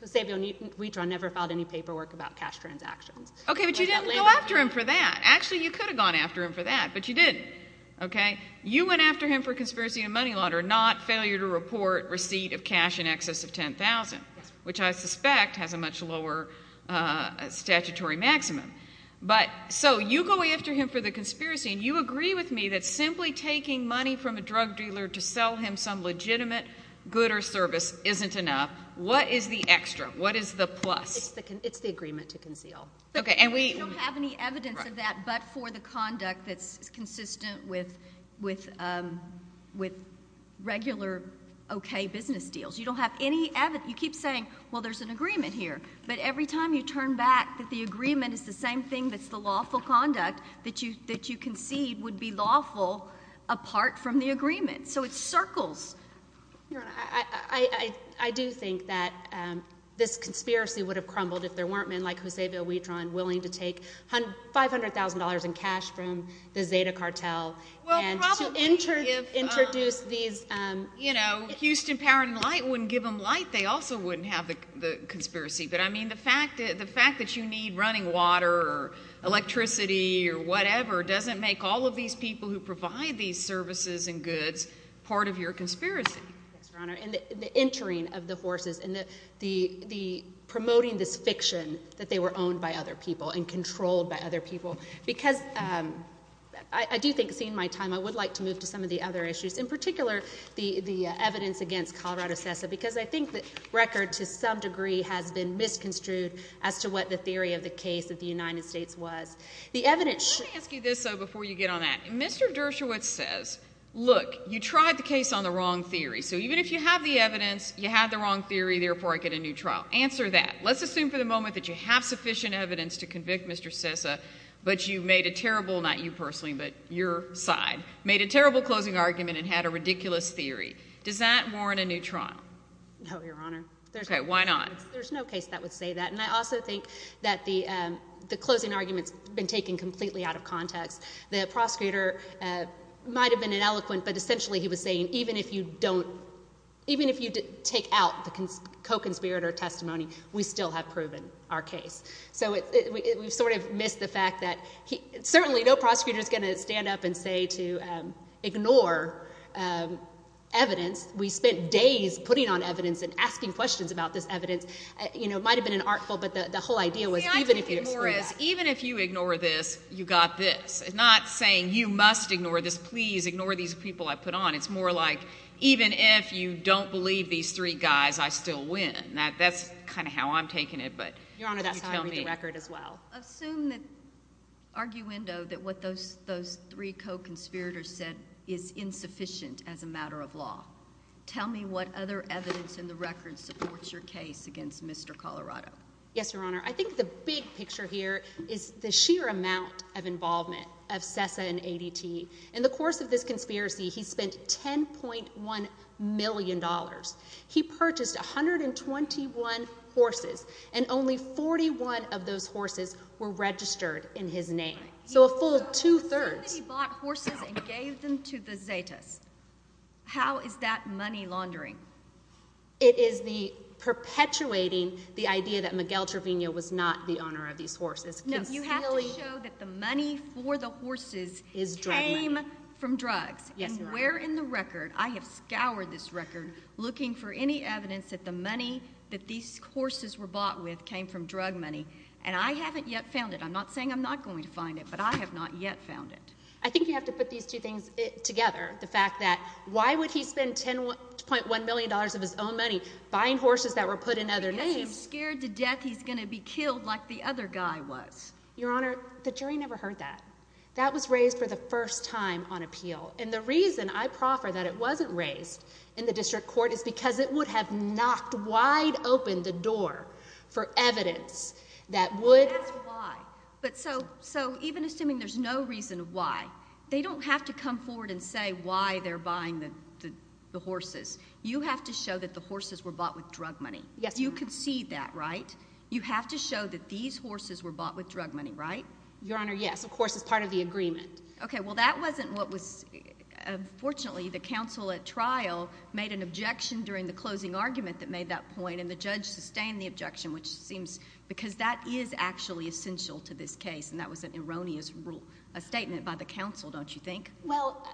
Savio Nieto never filed any paperwork about cash transactions. Okay, but you didn't go after him for that. Actually, you could have gone after him for that, but you didn't. Okay? You went after him for conspiracy and money launder, not failure to report receipt of cash in excess of $10,000, which I suspect has a much lower statutory maximum. So you go after him for the conspiracy, and you agree with me that simply taking money from a drug dealer to sell him some legitimate good or service isn't enough. What is the extra? What is the plus? It's the agreement to conceal. Okay, and we don't have any evidence of that but for the conduct that's consistent with regular okay business deals. You don't have any evidence. You keep saying, well, there's an agreement here, but every time you turn back that the agreement is the same thing that's the lawful conduct that you concede would be lawful apart from the agreement. So it circles. Your Honor, I do think that this conspiracy would have crumbled if there weren't men like Jose Villadran willing to take $500,000 in cash from the Zeta cartel and to introduce these. Houston Power and Light wouldn't give them light. They also wouldn't have the conspiracy. But, I mean, the fact that you need running water or electricity or whatever doesn't make all of these people who provide these services and goods part of your conspiracy. Yes, Your Honor, and the entering of the forces and the promoting this fiction that they were owned by other people and controlled by other people. Because I do think, seeing my time, I would like to move to some of the other issues, in particular the evidence against Colorado CESA because I think the record to some degree has been misconstrued as to what the theory of the case of the United States was. Let me ask you this, though, before you get on that. Mr. Dershowitz says, look, you tried the case on the wrong theory. So even if you have the evidence, you had the wrong theory, therefore I get a new trial. Answer that. Let's assume for the moment that you have sufficient evidence to convict Mr. CESA, but you made a terrible, not you personally, but your side, made a terrible closing argument and had a ridiculous theory. Does that warrant a new trial? No, Your Honor. Okay, why not? There's no case that would say that. And I also think that the closing argument's been taken completely out of context. The prosecutor might have been ineloquent, but essentially he was saying even if you take out the co-conspirator testimony, we still have proven our case. So we've sort of missed the fact that certainly no prosecutor is going to stand up and say to ignore evidence. We spent days putting on evidence and asking questions about this evidence. It might have been an artful, but the whole idea was even if you ignore this, you got this. It's not saying you must ignore this, please ignore these people I put on. It's more like even if you don't believe these three guys, I still win. That's kind of how I'm taking it. Your Honor, that's how I read the record as well. Assume the arguendo that what those three co-conspirators said is insufficient as a matter of law. Tell me what other evidence in the record supports your case against Mr. Colorado. Yes, Your Honor. I think the big picture here is the sheer amount of involvement of CESA and ADT. In the course of this conspiracy, he spent $10.1 million. He purchased 121 horses, and only 41 of those horses were registered in his name. So a full two-thirds. He bought horses and gave them to the Zetas. How is that money laundering? It is perpetuating the idea that Miguel Trevino was not the owner of these horses. No, you have to show that the money for the horses came from drugs. And where in the record, I have scoured this record looking for any evidence that the money that these horses were bought with came from drug money. And I haven't yet found it. I'm not saying I'm not going to find it, but I have not yet found it. I think you have to put these two things together. The fact that why would he spend $10.1 million of his own money buying horses that were put in other names? I'm scared to death he's going to be killed like the other guy was. Your Honor, the jury never heard that. That was raised for the first time on appeal. And the reason I proffer that it wasn't raised in the district court is because it would have knocked wide open the door for evidence that would. But that's why. So even assuming there's no reason why, they don't have to come forward and say why they're buying the horses. You have to show that the horses were bought with drug money. Yes. You concede that, right? You have to show that these horses were bought with drug money, right? Your Honor, yes, of course, as part of the agreement. Okay. Well, that wasn't what was—unfortunately, the counsel at trial made an objection during the closing argument that made that point, and the judge sustained the objection, which seems—because that is actually essential to this case, and that was an erroneous statement by the counsel, don't you think? Well,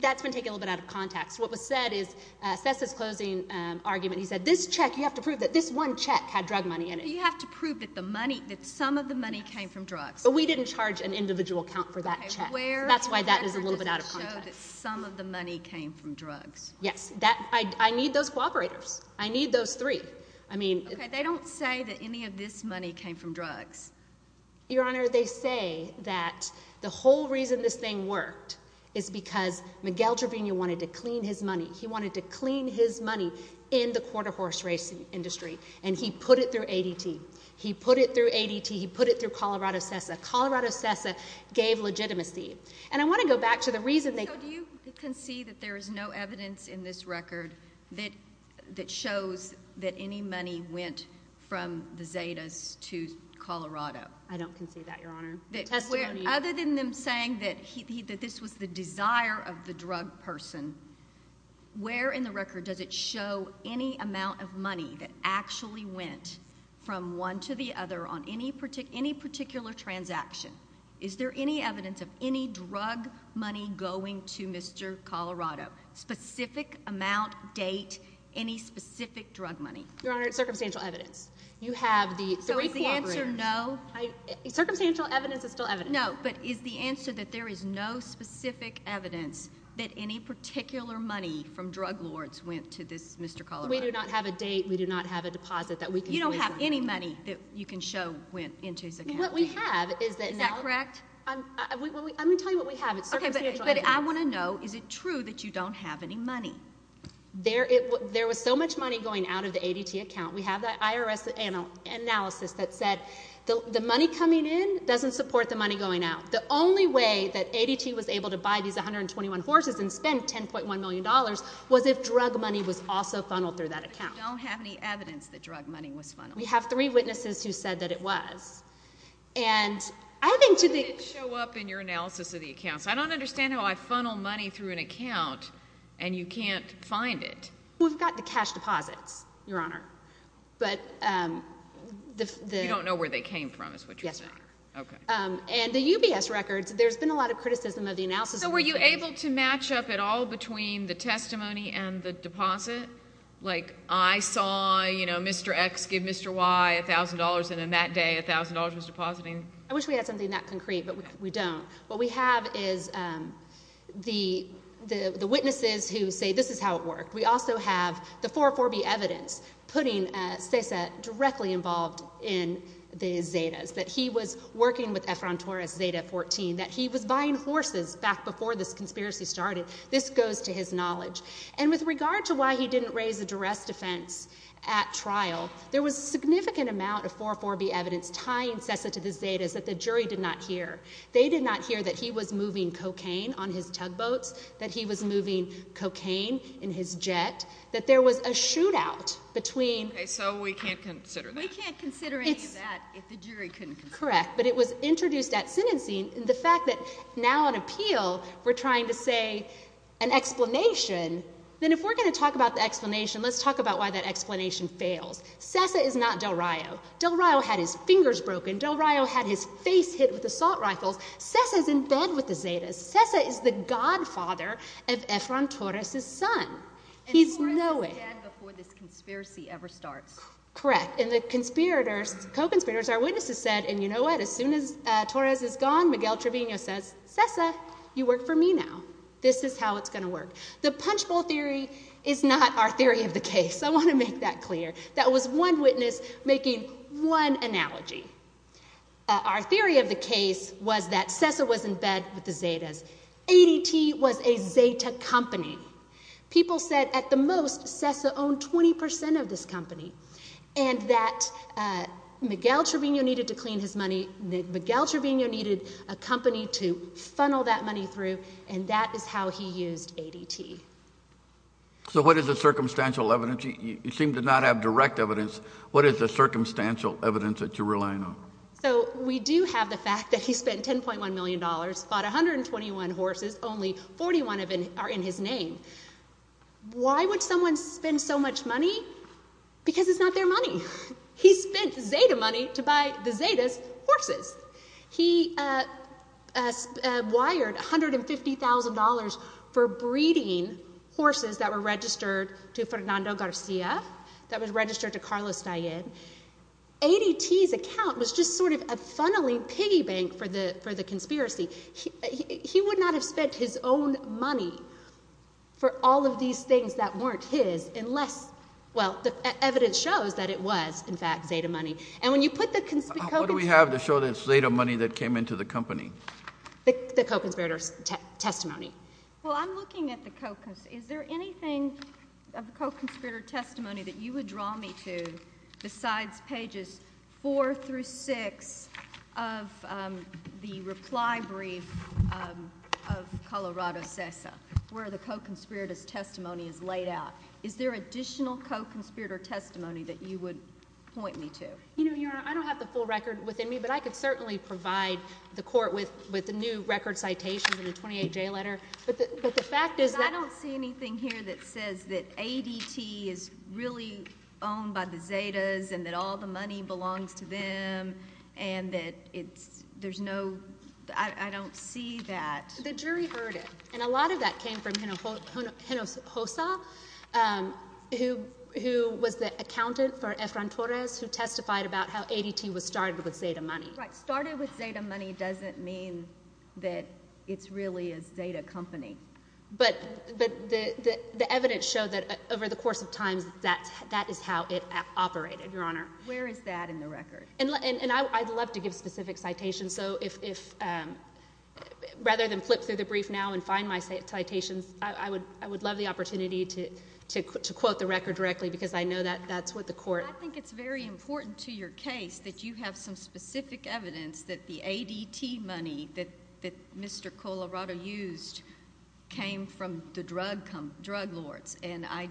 that's been taken a little bit out of context. What was said is—that's his closing argument. He said this check, you have to prove that this one check had drug money in it. You have to prove that some of the money came from drugs. But we didn't charge an individual account for that check. That's why that is a little bit out of context. Okay. Where does it show that some of the money came from drugs? Yes. I need those cooperators. I need those three. I mean— Okay. They don't say that any of this money came from drugs. Your Honor, they say that the whole reason this thing worked is because Miguel Trevino wanted to clean his money. He wanted to clean his money in the quarter horse racing industry, and he put it through ADT. He put it through ADT. He put it through Colorado CESA. Colorado CESA gave legitimacy. And I want to go back to the reason they— I don't concede that, Your Honor. The testimony— Other than them saying that this was the desire of the drug person, where in the record does it show any amount of money that actually went from one to the other on any particular transaction? Is there any evidence of any drug money going to Mr. Colorado, specific amount, date, any specific drug money? Your Honor, it's circumstantial evidence. You have the three cooperators. Is the answer no? Circumstantial evidence is still evidence. No, but is the answer that there is no specific evidence that any particular money from drug lords went to this Mr. Colorado? We do not have a date. We do not have a deposit that we can— You don't have any money that you can show went into his account? What we have is that— Is that correct? I'm going to tell you what we have. It's circumstantial evidence. Okay, but I want to know, is it true that you don't have any money? There was so much money going out of the ADT account. We have that IRS analysis that said the money coming in doesn't support the money going out. The only way that ADT was able to buy these 121 horses and spend $10.1 million was if drug money was also funneled through that account. But you don't have any evidence that drug money was funneled? We have three witnesses who said that it was, and I think to the— It didn't show up in your analysis of the accounts. I don't understand how I funnel money through an account, and you can't find it. We've got the cash deposits, Your Honor, but the— You don't know where they came from is what you're saying? Yes, Your Honor. Okay. And the UBS records, there's been a lot of criticism of the analysis— So were you able to match up at all between the testimony and the deposit? Like I saw Mr. X give Mr. Y $1,000, and then that day $1,000 was depositing? I wish we had something that concrete, but we don't. What we have is the witnesses who say this is how it worked. We also have the 404B evidence putting Cesar directly involved in the Zetas, that he was working with Efron Torres' Zeta 14, that he was buying horses back before this conspiracy started. This goes to his knowledge. And with regard to why he didn't raise a duress defense at trial, there was a significant amount of 404B evidence tying Cesar to the Zetas that the jury did not hear. They did not hear that he was moving cocaine on his tugboats, that he was moving cocaine in his jet, that there was a shootout between— Okay, so we can't consider that. We can't consider any of that if the jury couldn't consider it. Correct, but it was introduced at sentencing, and the fact that now on appeal we're trying to say an explanation, then if we're going to talk about the explanation, let's talk about why that explanation fails. Cesar is not Del Rio. Del Rio had his fingers broken. Del Rio had his face hit with assault rifles. Cesar's in bed with the Zetas. Cesar is the godfather of Efron Torres' son. He's knowing— And Torres is dead before this conspiracy ever starts. Correct, and the conspirators, co-conspirators, our witnesses said, and you know what, as soon as Torres is gone, Miguel Trevino says, Cesar, you work for me now. This is how it's going to work. The punchbowl theory is not our theory of the case. I want to make that clear. That was one witness making one analogy. Our theory of the case was that Cesar was in bed with the Zetas. ADT was a Zeta company. People said at the most Cesar owned 20 percent of this company, and that Miguel Trevino needed to clean his money, that Miguel Trevino needed a company to funnel that money through, and that is how he used ADT. So what is the circumstantial evidence? You seem to not have direct evidence. What is the circumstantial evidence that you're relying on? So we do have the fact that he spent $10.1 million, bought 121 horses, only 41 of them are in his name. Why would someone spend so much money? Because it's not their money. He spent Zeta money to buy the Zetas' horses. He wired $150,000 for breeding horses that were registered to Fernando Garcia, that was registered to Carlos Dian. ADT's account was just sort of a funneling piggy bank for the conspiracy. He would not have spent his own money for all of these things that weren't his unless, well, the evidence shows that it was, in fact, Zeta money. And when you put the conspiracy— What do we have to show that it's Zeta money that came into the company? The co-conspirator's testimony. Well, I'm looking at the co— Is there anything of the co-conspirator testimony that you would draw me to besides pages 4 through 6 of the reply brief of Colorado CESA where the co-conspirator's testimony is laid out? Is there additional co-conspirator testimony that you would point me to? Your Honor, I don't have the full record within me, but I could certainly provide the court with new record citations and a 28-J letter. But the fact is that— I don't see anything here that says that ADT is really owned by the Zetas and that all the money belongs to them and that there's no—I don't see that. The jury heard it, and a lot of that came from Geno Hossa, who was the accountant for Efran Torres, who testified about how ADT was started with Zeta money. Right. Started with Zeta money doesn't mean that it's really a Zeta company. But the evidence showed that over the course of time, that is how it operated, Your Honor. Where is that in the record? And I'd love to give specific citations, so if—rather than flip through the brief now and find my citations, I would love the opportunity to quote the record directly because I know that's what the court— I think it's very important to your case that you have some specific evidence that the ADT money that Mr. Colorado used came from the drug lords, and I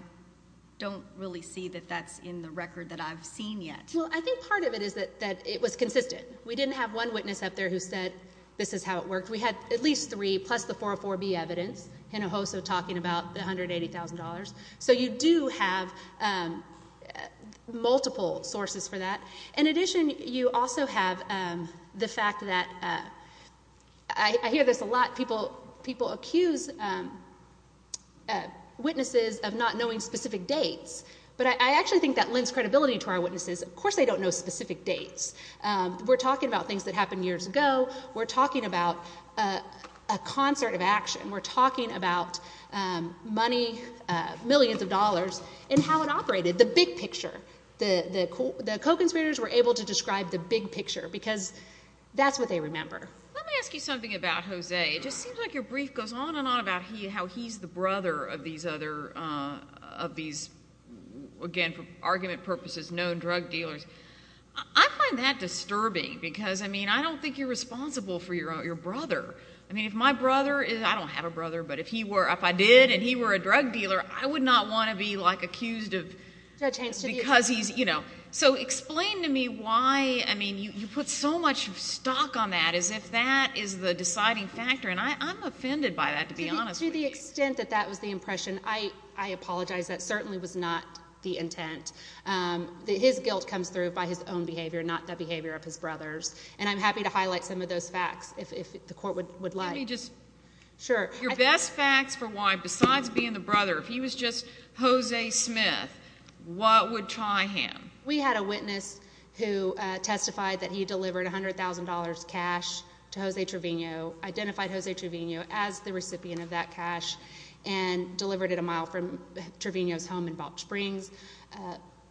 don't really see that that's in the record that I've seen yet. Well, I think part of it is that it was consistent. We didn't have one witness up there who said this is how it worked. We had at least three, plus the 404B evidence, Hinojosa talking about the $180,000. So you do have multiple sources for that. In addition, you also have the fact that—I hear this a lot. People accuse witnesses of not knowing specific dates, but I actually think that lends credibility to our witnesses. Of course they don't know specific dates. We're talking about things that happened years ago. We're talking about a concert of action. We're talking about money, millions of dollars, and how it operated, the big picture. The co-conspirators were able to describe the big picture because that's what they remember. Let me ask you something about Jose. It just seems like your brief goes on and on about how he's the brother of these other— of these, again, for argument purposes, known drug dealers. I find that disturbing because, I mean, I don't think you're responsible for your brother. I mean, if my brother—I don't have a brother, but if I did and he were a drug dealer, I would not want to be, like, accused of because he's— So explain to me why, I mean, you put so much stock on that as if that is the deciding factor, and I'm offended by that, to be honest with you. To the extent that that was the impression, I apologize. That certainly was not the intent. His guilt comes through by his own behavior, not the behavior of his brother's, and I'm happy to highlight some of those facts if the court would like. Let me just— Sure. Your best facts for why, besides being the brother, if he was just Jose Smith, what would tie him? We had a witness who testified that he delivered $100,000 cash to Jose Trevino, identified Jose Trevino as the recipient of that cash, and delivered it a mile from Trevino's home in Balch Springs.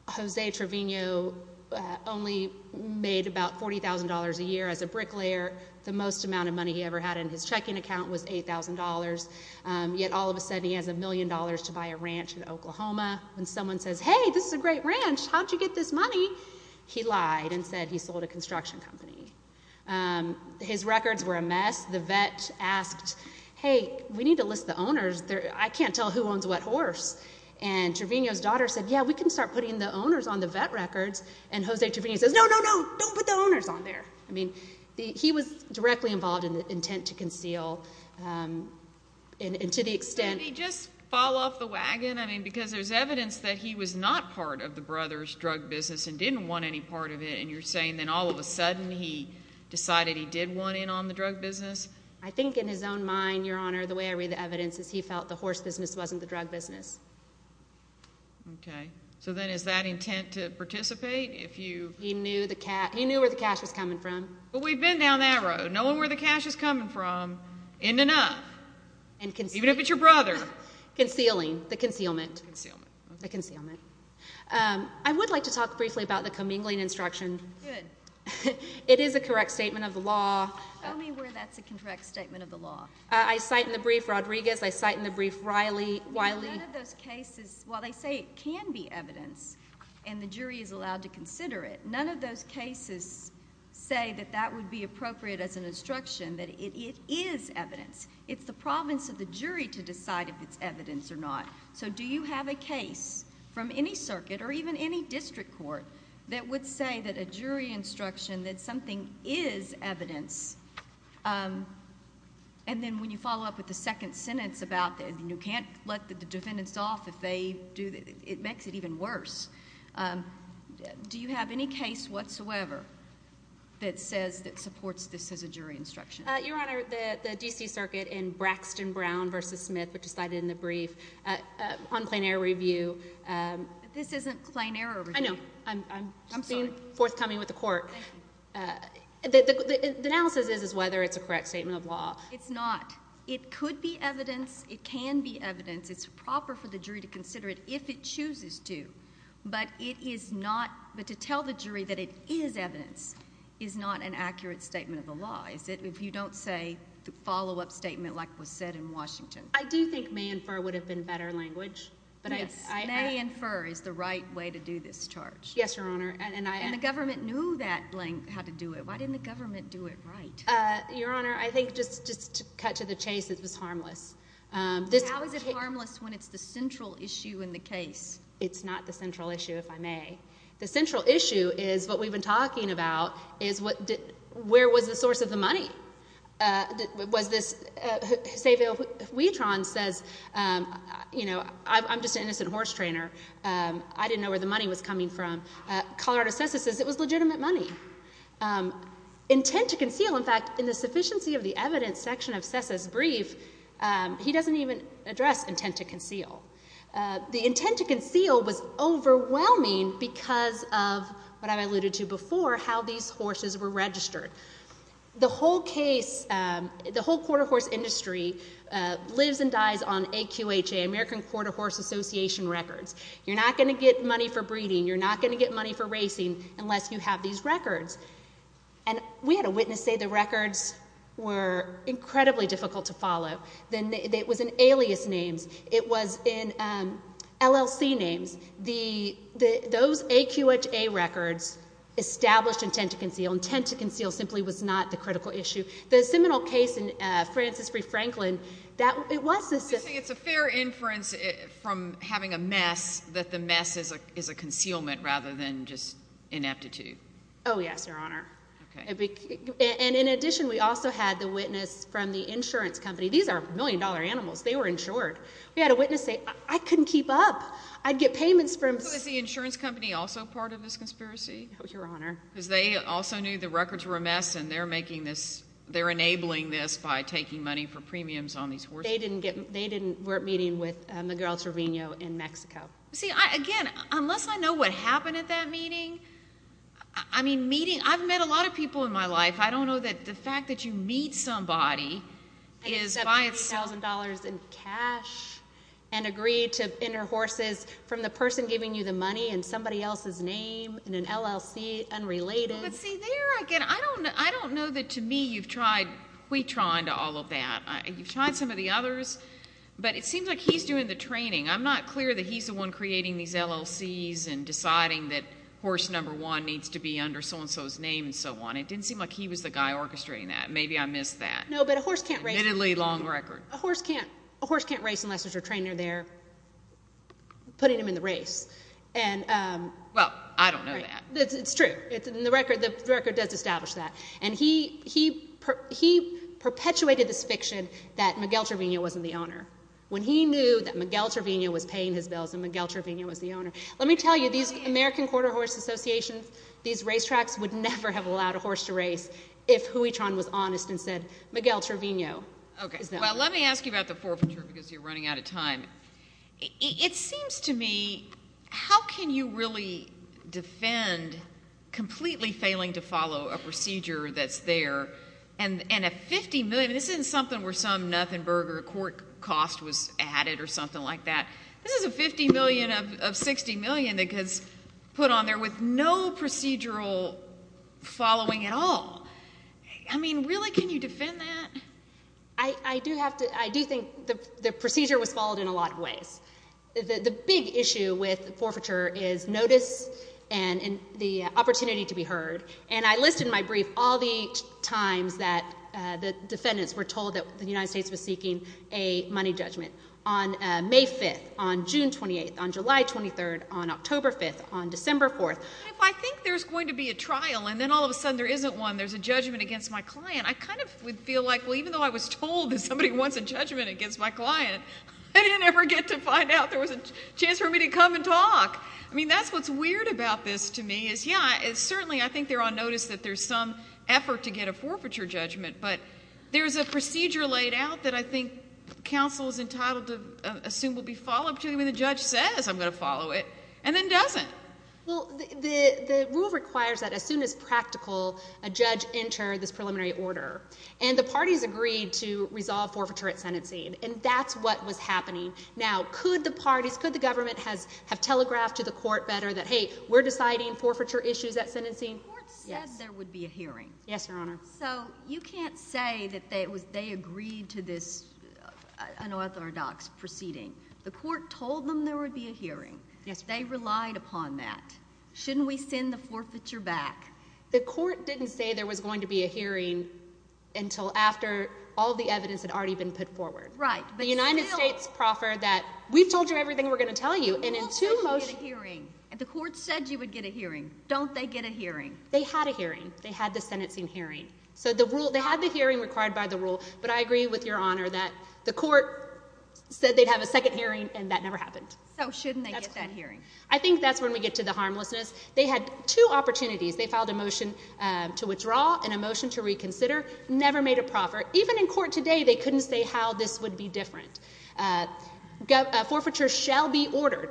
Jose Trevino only made about $40,000 a year as a bricklayer. The most amount of money he ever had in his checking account was $8,000, yet all of a sudden he has a million dollars to buy a ranch in Oklahoma. When someone says, hey, this is a great ranch, how'd you get this money? He lied and said he sold a construction company. His records were a mess. The vet asked, hey, we need to list the owners. I can't tell who owns what horse. And Trevino's daughter said, yeah, we can start putting the owners on the vet records. And Jose Trevino says, no, no, no, don't put the owners on there. I mean, he was directly involved in the intent to conceal and to the extent— Didn't he just fall off the wagon? I mean, because there's evidence that he was not part of the brother's drug business and didn't want any part of it, and you're saying then all of a sudden he decided he did want in on the drug business? I think in his own mind, Your Honor, the way I read the evidence is he felt the horse business wasn't the drug business. Okay. So then is that intent to participate? He knew where the cash was coming from. But we've been down that road, knowing where the cash is coming from, in and up, even if it's your brother. Concealing, the concealment. The concealment. I would like to talk briefly about the commingling instruction. Good. It is a correct statement of the law. Show me where that's a correct statement of the law. I cite in the brief Rodriguez. I cite in the brief Wiley. None of those cases, while they say it can be evidence and the jury is allowed to consider it, none of those cases say that that would be appropriate as an instruction, that it is evidence. It's the province of the jury to decide if it's evidence or not. So do you have a case from any circuit or even any district court that would say that a jury instruction, that something is evidence, and then when you follow up with the second sentence about you can't let the defendants off if they do, it makes it even worse. Do you have any case whatsoever that says that supports this as a jury instruction? Your Honor, the D.C. Circuit in Braxton Brown v. Smith, which is cited in the brief, on plain error review. This isn't plain error review. I know. I'm being forthcoming with the court. The analysis is whether it's a correct statement of law. It's not. It could be evidence. It can be evidence. It's proper for the jury to consider it if it chooses to, but to tell the jury that it is evidence is not an accurate statement of the law, if you don't say the follow-up statement like was said in Washington. I do think may and fur would have been better language. Yes. May and fur is the right way to do this charge. Yes, Your Honor. And the government knew that blank how to do it. Why didn't the government do it right? Your Honor, I think just to cut to the chase, it was harmless. How is it harmless when it's the central issue in the case? It's not the central issue, if I may. The central issue is what we've been talking about is where was the source of the money? Was this? Xavier Huitron says, you know, I'm just an innocent horse trainer. I didn't know where the money was coming from. Colorado CESA says it was legitimate money. Intent to conceal, in fact, in the sufficiency of the evidence section of CESA's brief, he doesn't even address intent to conceal. The intent to conceal was overwhelming because of what I alluded to before, how these horses were registered. The whole case, the whole quarter horse industry lives and dies on AQHA, American Quarter Horse Association records. You're not going to get money for breeding. You're not going to get money for racing unless you have these records. And we had a witness say the records were incredibly difficult to follow. It was in alias names. It was in LLC names. Those AQHA records established intent to conceal. Intent to conceal simply was not the critical issue. The seminal case in Francis Free Franklin, it was the seminal case. It's a fair inference from having a mess that the mess is a concealment rather than just ineptitude. Oh, yes, Your Honor. And in addition, we also had the witness from the insurance company. These are million-dollar animals. They were insured. We had a witness say, I couldn't keep up. I'd get payments from. Was the insurance company also part of this conspiracy? No, Your Honor. Because they also knew the records were a mess, and they're enabling this by taking money for premiums on these horses. They weren't meeting with Miguel Trevino in Mexico. See, again, unless I know what happened at that meeting, I mean, meeting. I've met a lot of people in my life. I don't know that the fact that you meet somebody is by itself. in cash and agree to enter horses from the person giving you the money in somebody else's name in an LLC, unrelated. But, see, there again, I don't know that to me you've tried. We tried all of that. You've tried some of the others, but it seems like he's doing the training. I'm not clear that he's the one creating these LLCs and deciding that horse number one needs to be under so-and-so's name and so on. It didn't seem like he was the guy orchestrating that. Maybe I missed that. No, but a horse can't race. Admittedly, long record. A horse can't race unless there's a trainer there putting him in the race. Well, I don't know that. It's true. The record does establish that. And he perpetuated this fiction that Miguel Trevino wasn't the owner when he knew that Miguel Trevino was paying his bills and Miguel Trevino was the owner. Let me tell you, these American Quarter Horse Association, these racetracks would never have allowed a horse to race if Huichon was honest and said, Miguel Trevino is the owner. Well, let me ask you about the forfeiture because you're running out of time. It seems to me, how can you really defend completely failing to follow a procedure that's there and a $50 million? This isn't something where some Nuffenberger court cost was added or something like that. This is a $50 million of $60 million that gets put on there with no procedural following at all. I mean, really, can you defend that? I do think the procedure was followed in a lot of ways. The big issue with forfeiture is notice and the opportunity to be heard. And I listed in my brief all the times that the defendants were told that the United States was seeking a money judgment. On May 5th, on June 28th, on July 23rd, on October 5th, on December 4th. If I think there's going to be a trial and then all of a sudden there isn't one, there's a judgment against my client, I kind of would feel like, well, even though I was told that somebody wants a judgment against my client, I didn't ever get to find out there was a chance for me to come and talk. I mean, that's what's weird about this to me is, yeah, certainly I think they're on notice that there's some effort to get a forfeiture judgment, but there's a procedure laid out that I think counsel is entitled to assume will be followed until the judge says, I'm going to follow it, and then doesn't. Well, the rule requires that as soon as practical, a judge enter this preliminary order. And the parties agreed to resolve forfeiture at sentencing, and that's what was happening. Now, could the parties, could the government have telegraphed to the court better that, hey, we're deciding forfeiture issues at sentencing? The court said there would be a hearing. Yes, Your Honor. So you can't say that they agreed to this unorthodox proceeding. The court told them there would be a hearing. Yes, Your Honor. They relied upon that. Shouldn't we send the forfeiture back? The court didn't say there was going to be a hearing until after all the evidence had already been put forward. Right, but still— The United States proffered that, we've told you everything we're going to tell you, and in two motions— The rule says you get a hearing, and the court said you would get a hearing. Don't they get a hearing? They had a hearing. They had the sentencing hearing. So they had the hearing required by the rule, but I agree with Your Honor that the court said they'd have a second hearing, and that never happened. So shouldn't they get that hearing? I think that's when we get to the harmlessness. They had two opportunities. They filed a motion to withdraw and a motion to reconsider. Never made a proffer. Even in court today, they couldn't say how this would be different. Forfeiture shall be ordered.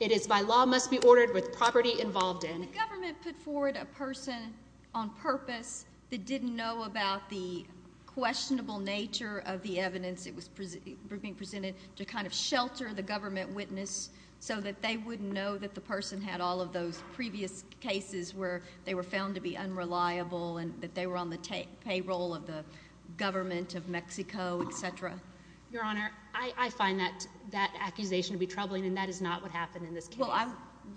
It is by law must be ordered with property involved in. Did the government put forward a person on purpose that didn't know about the questionable nature of the evidence that was being presented to kind of shelter the government witness so that they wouldn't know that the person had all of those previous cases where they were found to be unreliable and that they were on the payroll of the government of Mexico, et cetera? Your Honor, I find that accusation to be troubling, and that is not what happened in this case.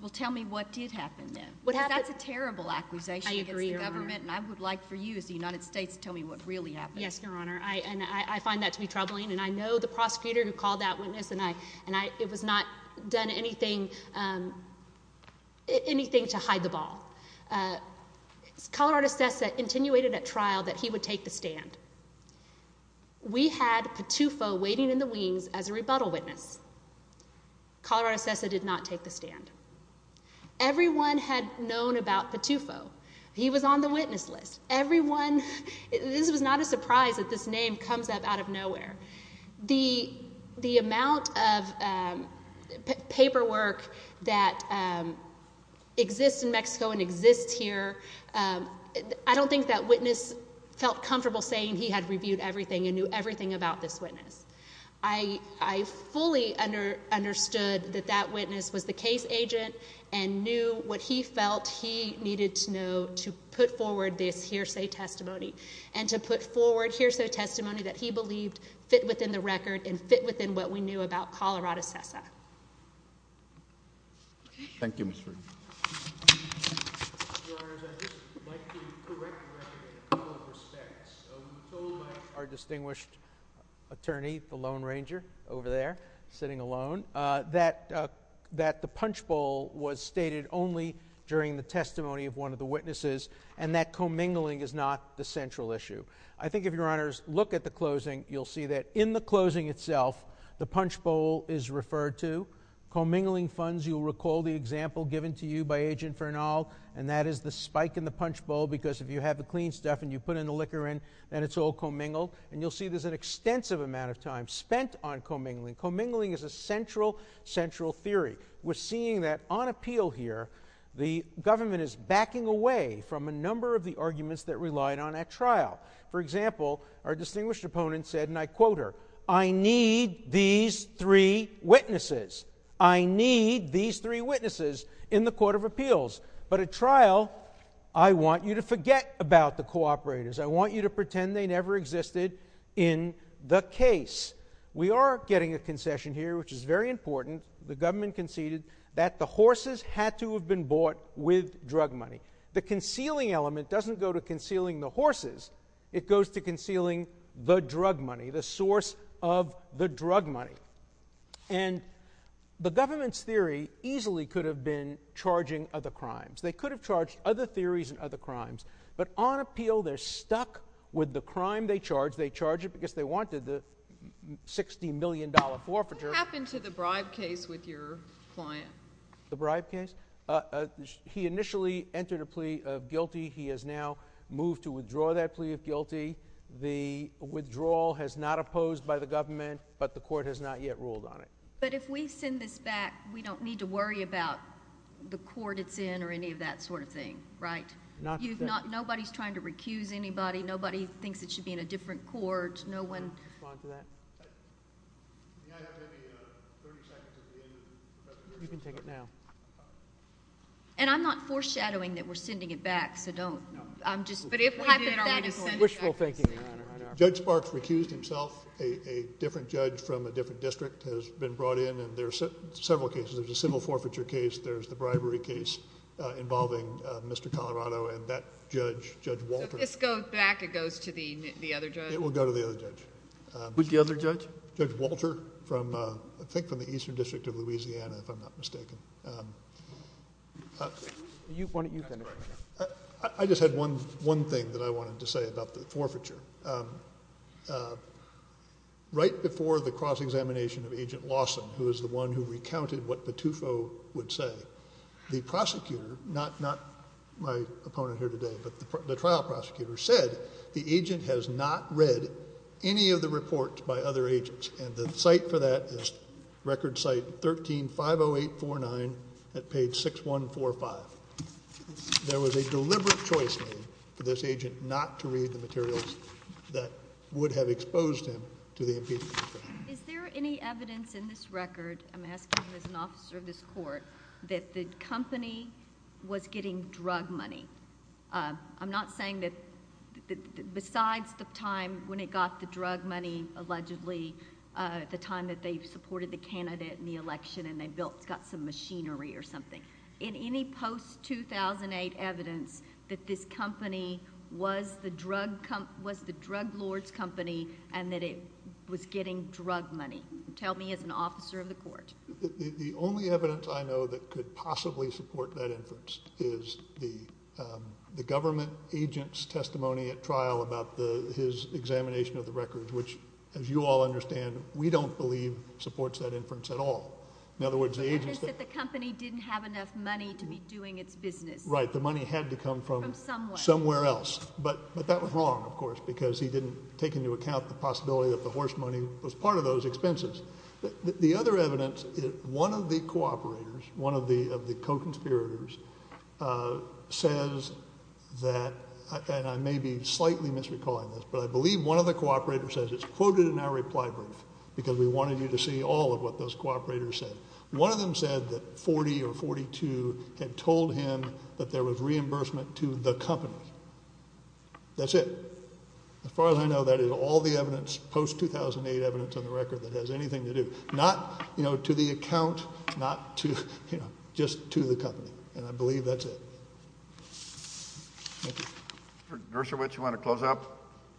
Well, tell me what did happen then. Because that's a terrible accusation against the government, and I would like for you as the United States to tell me what really happened. Yes, Your Honor, and I find that to be troubling, and I know the prosecutor who called that witness, and it was not done anything to hide the ball. Colorado SESA intenuated at trial that he would take the stand. We had Patufo waiting in the wings as a rebuttal witness. Colorado SESA did not take the stand. Everyone had known about Patufo. He was on the witness list. This was not a surprise that this name comes up out of nowhere. The amount of paperwork that exists in Mexico and exists here, I don't think that witness felt comfortable saying he had reviewed everything and knew everything about this witness. I fully understood that that witness was the case agent and knew what he felt he needed to know to put forward this hearsay testimony and to put forward hearsay testimony that he believed fit within the record and fit within what we knew about Colorado SESA. Thank you, Ms. Friedman. Your Honors, I'd just like to correct the record in a couple of respects. We told our distinguished attorney, the Lone Ranger over there sitting alone, that the punch bowl was stated only during the testimony of one of the witnesses and that commingling is not the central issue. I think if Your Honors look at the closing, you'll see that in the closing itself the punch bowl is referred to. Commingling funds, you'll recall the example given to you by Agent Fernald, and that is the spike in the punch bowl because if you have the clean stuff and you put in the liquor in, then it's all commingled. And you'll see there's an extensive amount of time spent on commingling. Commingling is a central, central theory. We're seeing that on appeal here the government is backing away from a number of the arguments that relied on at trial. For example, our distinguished opponent said, and I quote her, I need these three witnesses. I need these three witnesses in the Court of Appeals. But at trial, I want you to forget about the cooperators. I want you to pretend they never existed in the case. We are getting a concession here, which is very important. The government conceded that the horses had to have been bought with drug money. The concealing element doesn't go to concealing the horses. It goes to concealing the drug money, the source of the drug money. And the government's theory easily could have been charging other crimes. They could have charged other theories and other crimes. But on appeal, they're stuck with the crime they charge. They charge it because they wanted the $60 million forfeiture. What happened to the bribe case with your client? The bribe case? He initially entered a plea of guilty. He has now moved to withdraw that plea of guilty. The withdrawal has not opposed by the government, but the court has not yet ruled on it. But if we send this back, we don't need to worry about the court it's in or any of that sort of thing, right? Nobody's trying to recuse anybody. Nobody thinks it should be in a different court. No one— Respond to that. You can take it now. And I'm not foreshadowing that we're sending it back, so don't. Wishful thinking, Your Honor. Judge Sparks recused himself. A different judge from a different district has been brought in, and there are several cases. There's a civil forfeiture case. There's the bribery case involving Mr. Colorado. And that judge, Judge Walter— If this goes back, it goes to the other judge? It will go to the other judge. Who's the other judge? Judge Walter from, I think, from the Eastern District of Louisiana, if I'm not mistaken. Why don't you finish? I just had one thing that I wanted to say about the forfeiture. Right before the cross-examination of Agent Lawson, who is the one who recounted what Patufo would say, the prosecutor—not my opponent here today, but the trial prosecutor— said the agent has not read any of the reports by other agents, and the cite for that is Record Cite 13-50849 at page 6145. There was a deliberate choice made for this agent not to read the materials that would have exposed him to the impediments. Is there any evidence in this record—I'm asking as an officer of this court— that the company was getting drug money? I'm not saying that—besides the time when it got the drug money, allegedly, the time that they supported the candidate in the election and they built—got some machinery or something— in any post-2008 evidence that this company was the drug lord's company and that it was getting drug money? Tell me as an officer of the court. The only evidence I know that could possibly support that inference is the government agent's testimony at trial about his examination of the records, which, as you all understand, we don't believe supports that inference at all. In other words, the agent— The evidence that the company didn't have enough money to be doing its business. Right. The money had to come from somewhere else. But that was wrong, of course, because he didn't take into account the possibility that the horse money was part of those expenses. The other evidence is one of the cooperators, one of the co-conspirators, says that— and I may be slightly misrecalling this, but I believe one of the cooperators says—it's quoted in our reply brief because we wanted you to see all of what those cooperators said. One of them said that 40 or 42 had told him that there was reimbursement to the company. That's it. As far as I know, that is all the evidence, post-2008 evidence on the record, that has anything to do—not to the account, not to—just to the company, and I believe that's it. Thank you. Mr. Gershowitz, you want to close up?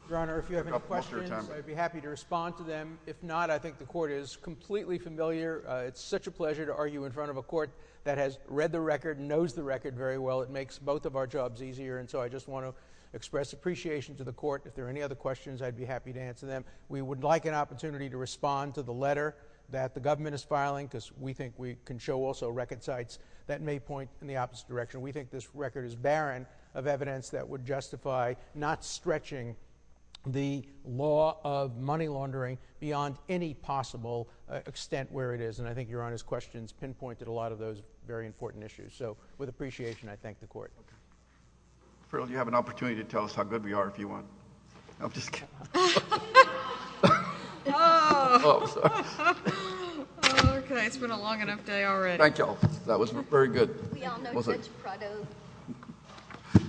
Your Honor, if you have any questions, I'd be happy to respond to them. If not, I think the Court is completely familiar. It's such a pleasure to argue in front of a court that has read the record, knows the record very well. It makes both of our jobs easier, and so I just want to express appreciation to the court. If there are any other questions, I'd be happy to answer them. We would like an opportunity to respond to the letter that the government is filing because we think we can show also record sites that may point in the opposite direction. We think this record is barren of evidence that would justify not stretching the law of money laundering beyond any possible extent where it is, and I think Your Honor's questions pinpointed a lot of those very important issues. So, with appreciation, I thank the court. Farrell, you have an opportunity to tell us how good we are if you want. I'm just kidding. Okay. It's been a long enough day already. Thank you all. That was very good. We all know Judge Prado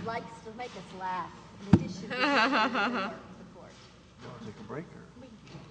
likes to make us laugh. Do you want to take a break or...